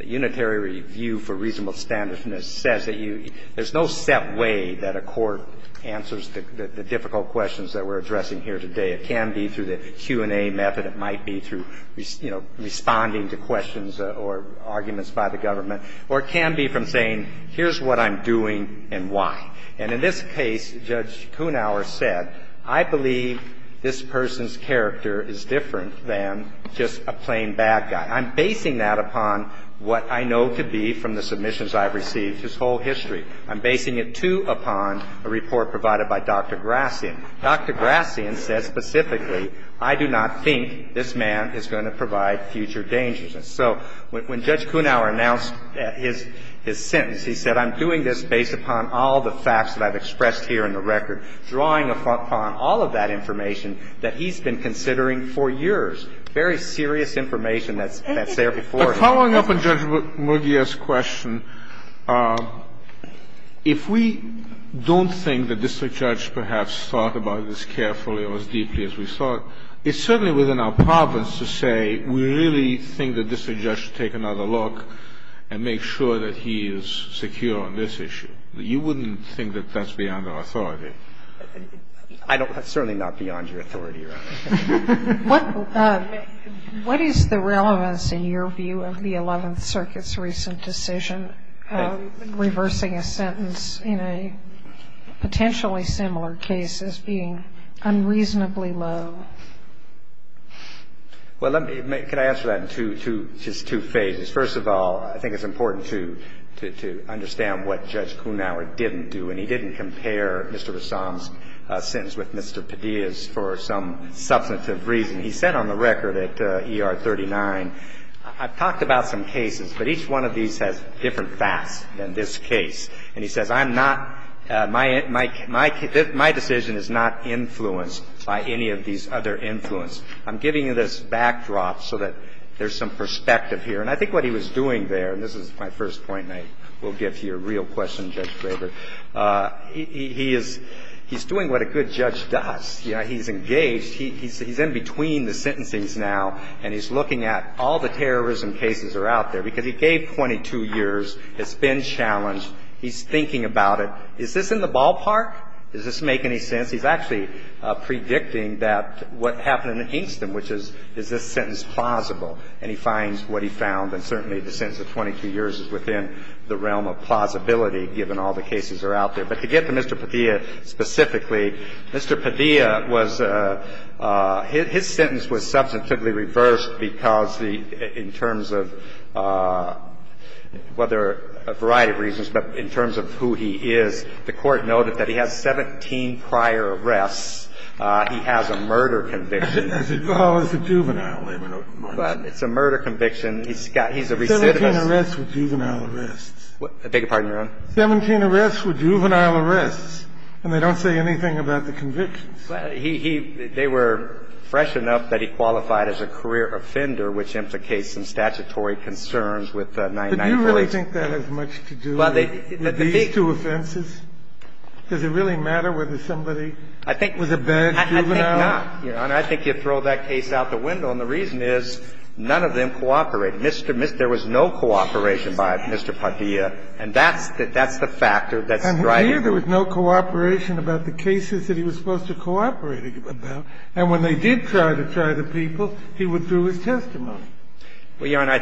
Unitary Review for Reasonable Standards says, there's no set way that a court answers the difficult questions that we're addressing here today. It can be through the Q&A method. It might be through, you know, responding to questions or arguments by the government. Or it can be from saying, here's what I'm doing and why. And in this case, Judge Kuhnert said, I believe this person's character is different than just a plain bad guy. I'm basing that upon what I know to be from the submissions I've received, his whole history. I'm basing it, too, upon a report provided by Dr. Grassian. Dr. Grassian said specifically, I do not think this man is going to provide future dangerousness. So when Judge Kuhnert announced his sentence, he said, I'm doing this based upon all the facts that I've expressed here in the record, drawing upon all of that information that he's been considering for years, very serious information that's there before him. But following up on Judge Mugia's question, if we don't think the district judge perhaps thought about this carefully or as deeply as we thought, it's certainly within our province to say, we really think the district judge should take another look and make sure that he is secure on this issue. You wouldn't think that that's beyond our authority. I don't. It's certainly not beyond your authority, Your Honor. What is the relevance in your view of the Eleventh Circuit's recent decision reversing a sentence in a potentially similar case as being unreasonably low? Well, can I answer that in just two phases? First of all, I think it's important to understand what Judge Kuhnert didn't do. And he didn't compare Mr. Rassam's sentence with Mr. Padilla's for some substantive reason. He said on the record at ER 39, I've talked about some cases, but each one of these has different facts than this case. And he says, I'm not, my decision is not influenced by any of these other influences. I'm giving you this backdrop so that there's some perspective here. And I think what he was doing there, and this is my first point, and I will give you a real question, Judge Graber. He's doing what a good judge does. He's engaged. He's in between the sentences now, and he's looking at all the terrorism cases that are out there. Because he gave 22 years. It's been challenged. He's thinking about it. Is this in the ballpark? Does this make any sense? He's actually predicting that what happened in Hingston, which is, is this sentence plausible? And he finds what he found, and certainly the sentence of 22 years is within the realm of plausibility, given all the cases that are out there. But to get to Mr. Padilla specifically, Mr. Padilla was, his sentence was substantively reversed because the, in terms of, well, there are a variety of reasons, but in terms of who he is, the court noted that he has 17 prior arrests. He has a murder conviction. It's a juvenile. It's a murder conviction. He's a recidivist. 17 arrests with juvenile arrests. I beg your pardon, Your Honor? 17 arrests with juvenile arrests, and they don't say anything about the convictions. Well, he, he, they were fresh enough that he qualified as a career offender, which implicates some statutory concerns with 1994. But do you really think that has much to do with these two offenses? Does it really matter whether somebody was a bad juvenile? I think not, Your Honor. I think you throw that case out the window. And the reason is none of them cooperate. There was no cooperation by Mr. Padilla. And that's the factor that's driving it. I think there was no cooperation about the cases that he was supposed to cooperate about. And when they did try to try the people, he withdrew his testimony. Well, Your Honor,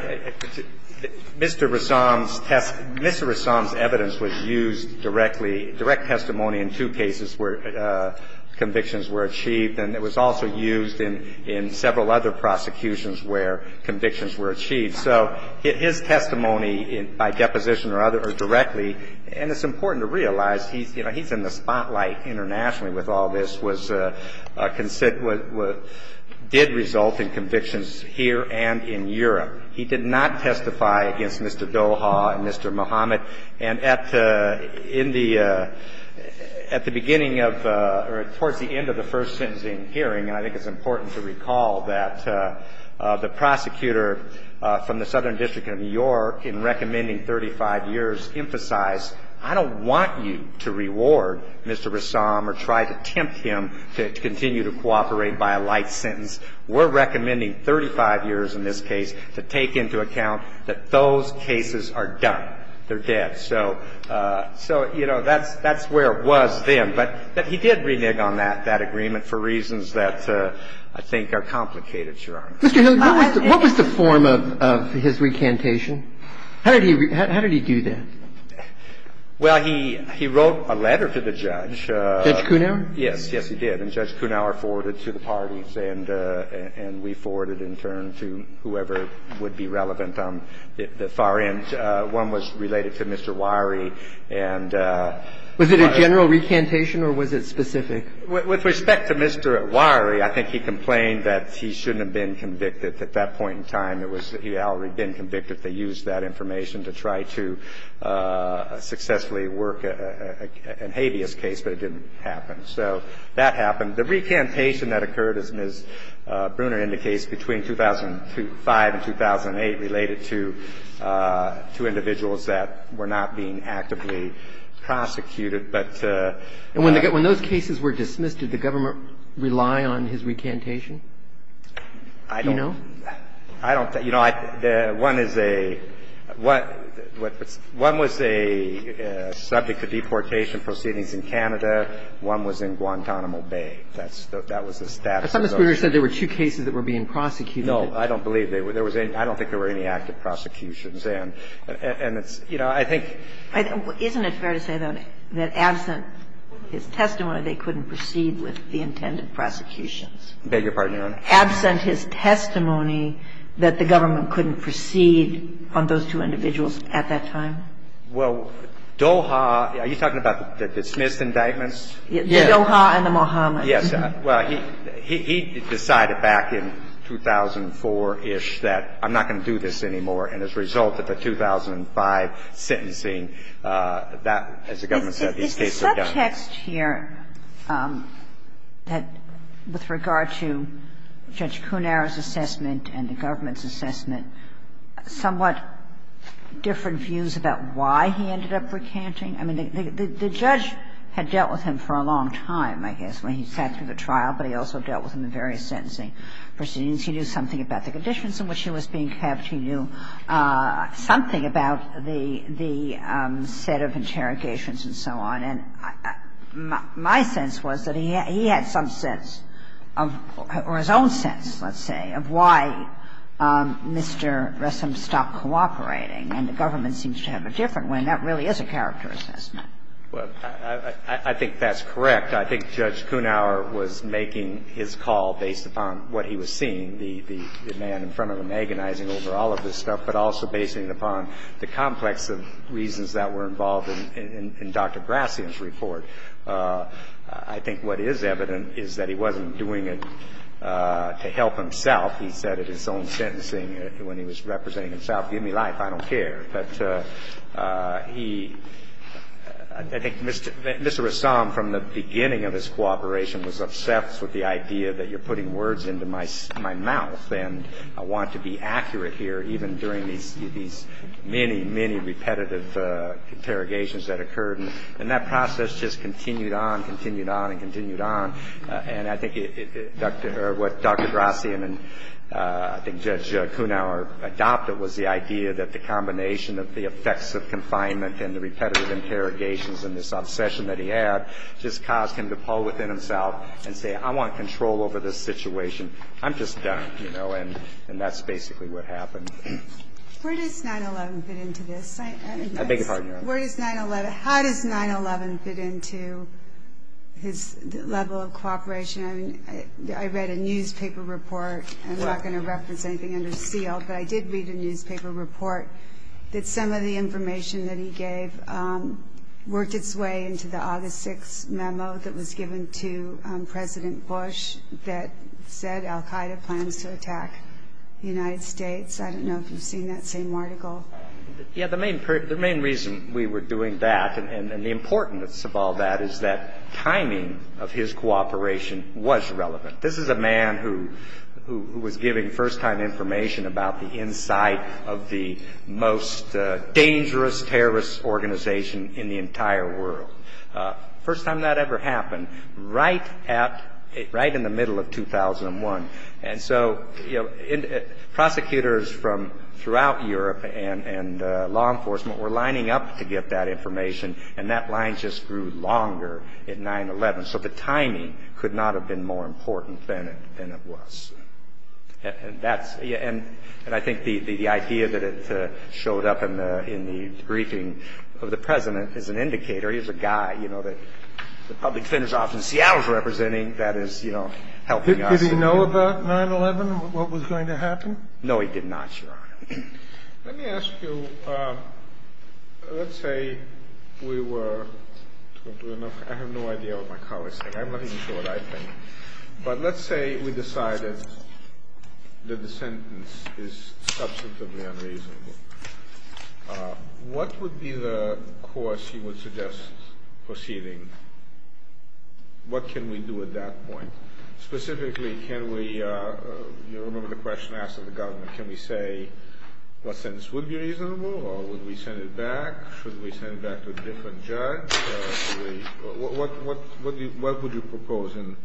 Mr. Rassam's test, Mr. Rassam's evidence was used directly, direct testimony in two cases where convictions were achieved, and it was also used in, in several other prosecutions where convictions were achieved. So his testimony by deposition or other, or directly, and it's important to realize he's, you know, he's in the spotlight internationally with all this, was, did result in convictions here and in Europe. He did not testify against Mr. Doha and Mr. Muhammad. And at the, in the, at the beginning of, or towards the end of the first sentencing hearing, and I think it's important to recall that the prosecutor from the Southern District of New York in recommending 35 years emphasized, I don't want you to reward Mr. Rassam or try to tempt him to continue to cooperate by a light sentence. We're recommending 35 years in this case to take into account that those cases are done, they're dead. So, so, you know, that's, that's where it was then. But then he did renege on that, that agreement for reasons that I think are complicated, Your Honor. Roberts. What was the form of, of his recantation? How did he, how did he do that? Well, he, he wrote a letter to the judge. Judge Kunawer? Yes, yes he did. And Judge Kunawer forwarded to the parties and, and we forwarded in turn to whoever would be relevant on the far end. One was related to Mr. Wiery and... Was it a general recantation or was it specific? With respect to Mr. Wiery, I think he complained that he shouldn't have been convicted at that point in time. He had already been convicted. They used that information to try to successfully work a, a habeas case, but it didn't happen. So that happened. The recantation that occurred, as Ms. Bruner indicates, between 2005 and 2008 related to, to individuals that were not being actively prosecuted. But... And when those cases were dismissed, did the government rely on his recantation? I don't... Do you know? I don't, you know, I, the, one is a, what, what's, one was a subject to deportation proceedings in Canada. One was in Guantanamo Bay. That's, that was the status of those. I thought Ms. Bruner said there were two cases that were being prosecuted. No, I don't believe there were. I don't think there were any active prosecutions. And, and it's, you know, I think... Isn't it fair to say, though, that absent his testimony, they couldn't proceed with the intended prosecutions? I beg your pardon, Your Honor? Absent his testimony, that the government couldn't proceed on those two individuals at that time? Well, Doha, are you talking about the dismissed indictments? Yes. The Doha and the Mohammed. Yes. Well, he, he decided back in 2004-ish that I'm not going to do this anymore. And as a result of the 2005 sentencing, that, as the government said, these cases are done. Is the subtext here that with regard to Judge Cunero's assessment and the government's assessment somewhat different views about why he ended up recanting? I mean, the, the judge had dealt with him for a long time, I guess, when he said through the trial, but he also dealt with him in various sentencing proceedings. He knew something about the conditions in which he was being kept. He knew something about the, the set of interrogations and so on. And my, my sense was that he, he had some sense of, or his own sense, let's say, of why Mr. Ressin stopped cooperating. And the government seems to have a different one. And that really is a character assessment. Well, I, I think that's correct. I think Judge Cunero was making his call based upon what he was seeing, the, the man in front of him agonizing over all of this stuff, but also basing it upon the complex of reasons that were involved in, in, in Dr. Grassian's report. I think what is evident is that he wasn't doing it to help himself. He said it in his own sentencing when he was representing himself, give me life, I don't care. But he, I think Mr. Ressin from the beginning of his cooperation was obsessed with the idea that you're putting words into my, my mouth. And I want to be accurate here even during these, these many, many repetitive interrogations that occurred. And that process just continued on, continued on, and continued on. And I think it, Dr., or what Dr. Grassian and I think Judge Cunero adopted was the idea that the combination of the effects of confinement and the repetitive interrogations and this obsession that he had just caused him to pull within himself and say, I want control over this situation. I'm just done, you know, and, and that's basically what happened. Where does 9-11 fit into this? I beg your pardon, Your Honor. Where does 9-11, how does 9-11 fit into his level of cooperation? I mean, I, I read a newspaper report. I'm not going to reference anything under seal, but I did read a newspaper report that some of the information that he gave worked its way into the August 6th memo that was given to President Bush that said Al Qaeda plans to attack the United States. I don't know if you've seen that same article. Yeah, the main, the main reason we were doing that and, and the importance of all that is that timing of his cooperation was relevant. This is a man who, who, who was giving first time information about the inside of the most dangerous terrorist organization in the entire world. First time that ever happened, right at, right in the middle of 2001. And so, you know, prosecutors from throughout Europe and, and law enforcement were lining up to get that information and that line just grew longer at 9-11. So the timing could not have been more important than it, than it was. And that's, and I think the, the idea that it showed up in the, in the briefing of the President is an indicator. He's a guy, you know, that the public defender's office in Seattle is representing that is, you know, helping us. Did he know about 9-11, what was going to happen? No, he did not, Your Honor. Let me ask you, let's say we were, I have no idea what my colleague's saying. I'm not even sure what I think. But let's say we decided that the sentence is substantively unreasonable. What would be the course you would suggest proceeding? What can we do at that point? Specifically, can we, you remember the question asked of the government, can we say what sentence would be reasonable, or would we send it back? Should we send it back to a different judge? What, what, what would you propose? And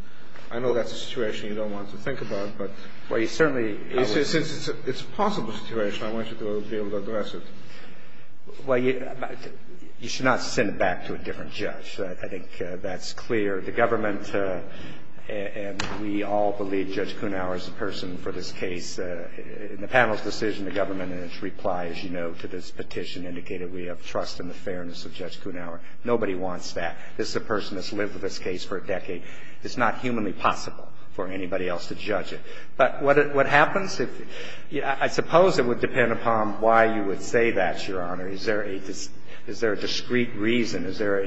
I know that's a situation you don't want to think about, but. Well, you certainly. Since it's a possible situation, I want you to be able to address it. Well, you should not send it back to a different judge. I think that's clear. The government, and we all believe Judge Kunawer is the person for this case. In the panel's decision, the government, in its reply, as you know, to this petition, indicated we have trust in the fairness of Judge Kunawer. Nobody wants that. This is a person that's lived with this case for a decade. It's not humanly possible for anybody else to judge it. But what happens? I suppose it would depend upon why you would say that, Your Honor. Is there a discrete reason? Is there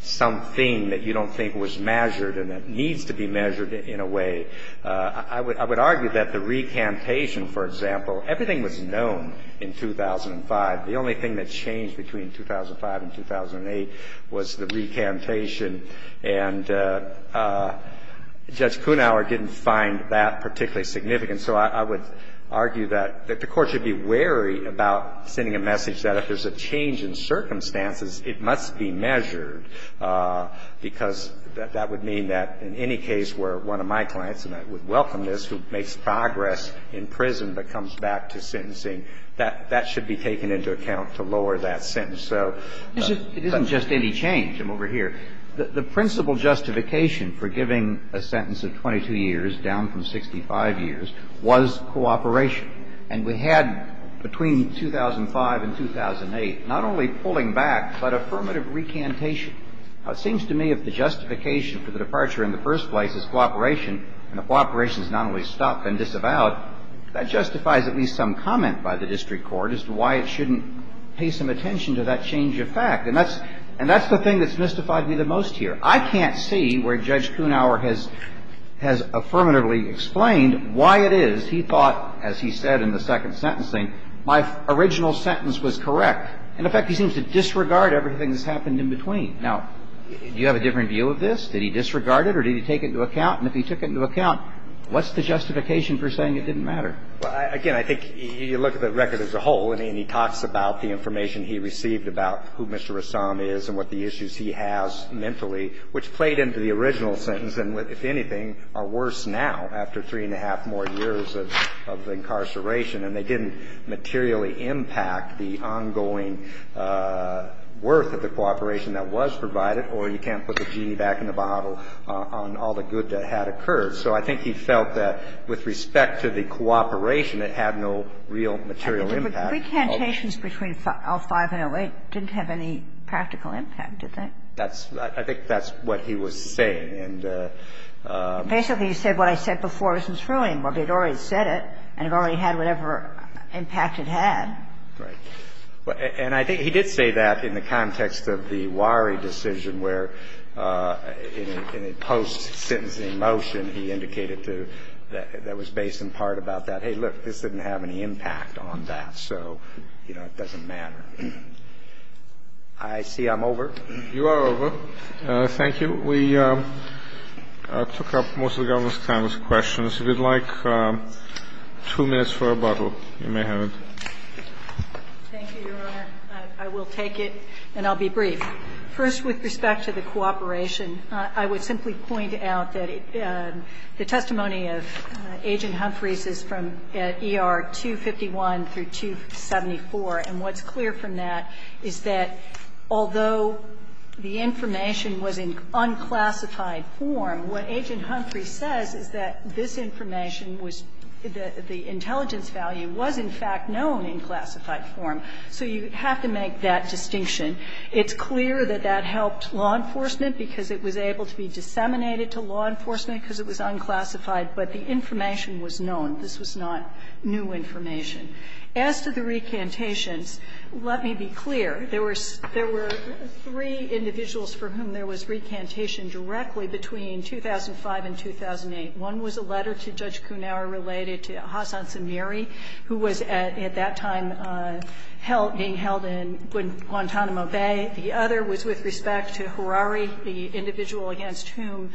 something that you don't think was measured and that needs to be measured in a way? I would argue that the recantation, for example, everything was known in 2005. The only thing that changed between 2005 and 2008 was the recantation. And Judge Kunawer didn't find that particularly significant. So I would argue that the Court should be wary about sending a message that if there's a change in circumstances, it must be measured, because that would mean that in any case where one of my clients, and I would welcome this, who makes progress in prison but comes back to sentencing, that that should be taken into account to lower that sentence. It isn't just any change. I'm over here. The principal justification for giving a sentence of 22 years down from 65 years was cooperation. And we had between 2005 and 2008 not only pulling back but affirmative recantation. Now, it seems to me if the justification for the departure in the first place is cooperation and if cooperation is not only stopped and disavowed, that justifies at least some comment by the district court as to why it shouldn't pay some attention to that change of fact. And that's the thing that's mystified me the most here. I can't see where Judge Kunawer has affirmatively explained why it is he thought, as he said in the second sentencing, my original sentence was correct. In effect, he seems to disregard everything that's happened in between. Now, do you have a different view of this? Did he disregard it or did he take it into account? And if he took it into account, what's the justification for saying it didn't matter? Well, again, I think you look at the record as a whole and he talks about the information he received about who Mr. Rassam is and what the issues he has mentally, which played into the original sentence and, if anything, are worse now after three-and-a-half more years of incarceration. And they didn't materially impact the ongoing worth of the cooperation that was provided or you can't put the genie back in the bottle on all the good that had occurred. So I think he felt that with respect to the cooperation, it had no real material impact. But recantations between L-5 and L-8 didn't have any practical impact, did they? I think that's what he was saying. Basically, he said what I said before isn't true anymore, but he'd already said it and it already had whatever impact it had. Right. And I think he did say that in the context of the Wari decision where in a post-sentencing motion, he indicated to that was based in part about that, hey, look, this didn't have any impact on that, so, you know, it doesn't matter. I see I'm over. You are over. Thank you. We took up most of the Governor's time with questions. If you'd like two minutes for a bottle, you may have it. Thank you, Your Honor. I will take it and I'll be brief. First, with respect to the cooperation, I would simply point out that the testimony of Agent Humphreys is from ER 251 through 274. And what's clear from that is that although the information was in unclassified form, what Agent Humphreys says is that this information was the intelligence value was in fact known in classified form. So you have to make that distinction. It's clear that that helped law enforcement because it was able to be disseminated to law enforcement because it was unclassified, but the information was known. This was not new information. As to the recantations, let me be clear. There were three individuals for whom there was recantation directly between 2005 and 2008. One was a letter to Judge Kunauer related to Hassan Samiri, who was at that time being held in Guantanamo Bay. The other was with respect to Harari, the individual against whom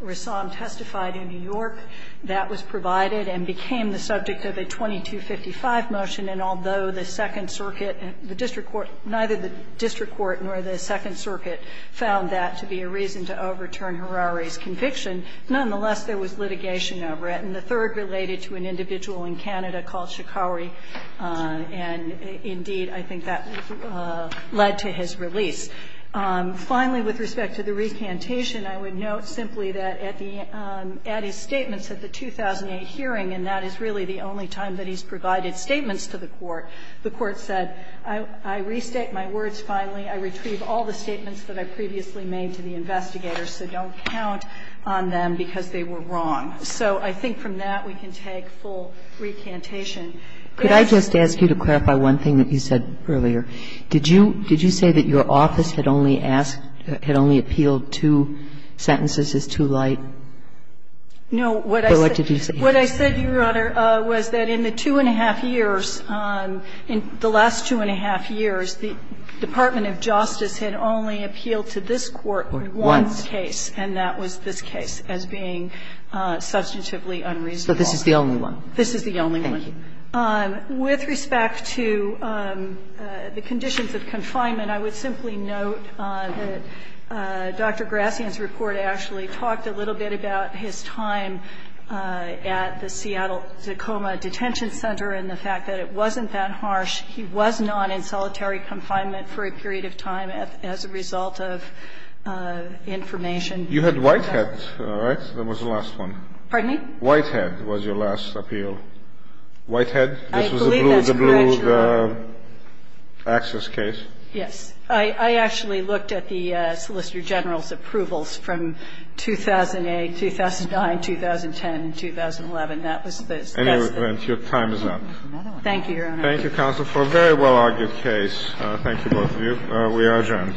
Rassam testified in New York. That was provided and became the subject of a 2255 motion. And although the Second Circuit, the district court, neither the district court nor the Second Circuit found that to be a reason to overturn Harari's conviction, nonetheless, there was litigation over it. And the third related to an individual in Canada called Shikauri, and indeed, I think that led to his release. Finally, with respect to the recantation, I would note simply that at his statements at the 2008 hearing, and that is really the only time that he's provided statements to the court, the court said, I restate my words finally. I retrieve all the statements that I previously made to the investigators, so don't count on them because they were wrong. So I think from that, we can take full recantation. Could I just ask you to clarify one thing that you said earlier? Did you say that your office had only appealed two sentences as too light? No. What did you say? What I said, Your Honor, was that in the two and a half years, in the last two and a half years, the Department of Justice had only appealed to this court once. Once. And that was this case as being substantively unreasonable. So this is the only one? This is the only one. Thank you. With respect to the conditions of confinement, I would simply note that Dr. Grassian's report actually talked a little bit about his time at the Seattle Tacoma Detention Center and the fact that it wasn't that harsh. He was not in solitary confinement for a period of time as a result of information. You had Whitehead, right? That was the last one. Pardon me? Whitehead was your last appeal. Whitehead? I believe that's correct, Your Honor. This was the blue access case? Yes. I actually looked at the Solicitor General's approvals from 2008, 2009, 2010, 2011. That was the best. Anyway, your time is up. Thank you, Your Honor. Thank you, counsel, for a very well-argued case. Thank you, both of you. We are adjourned.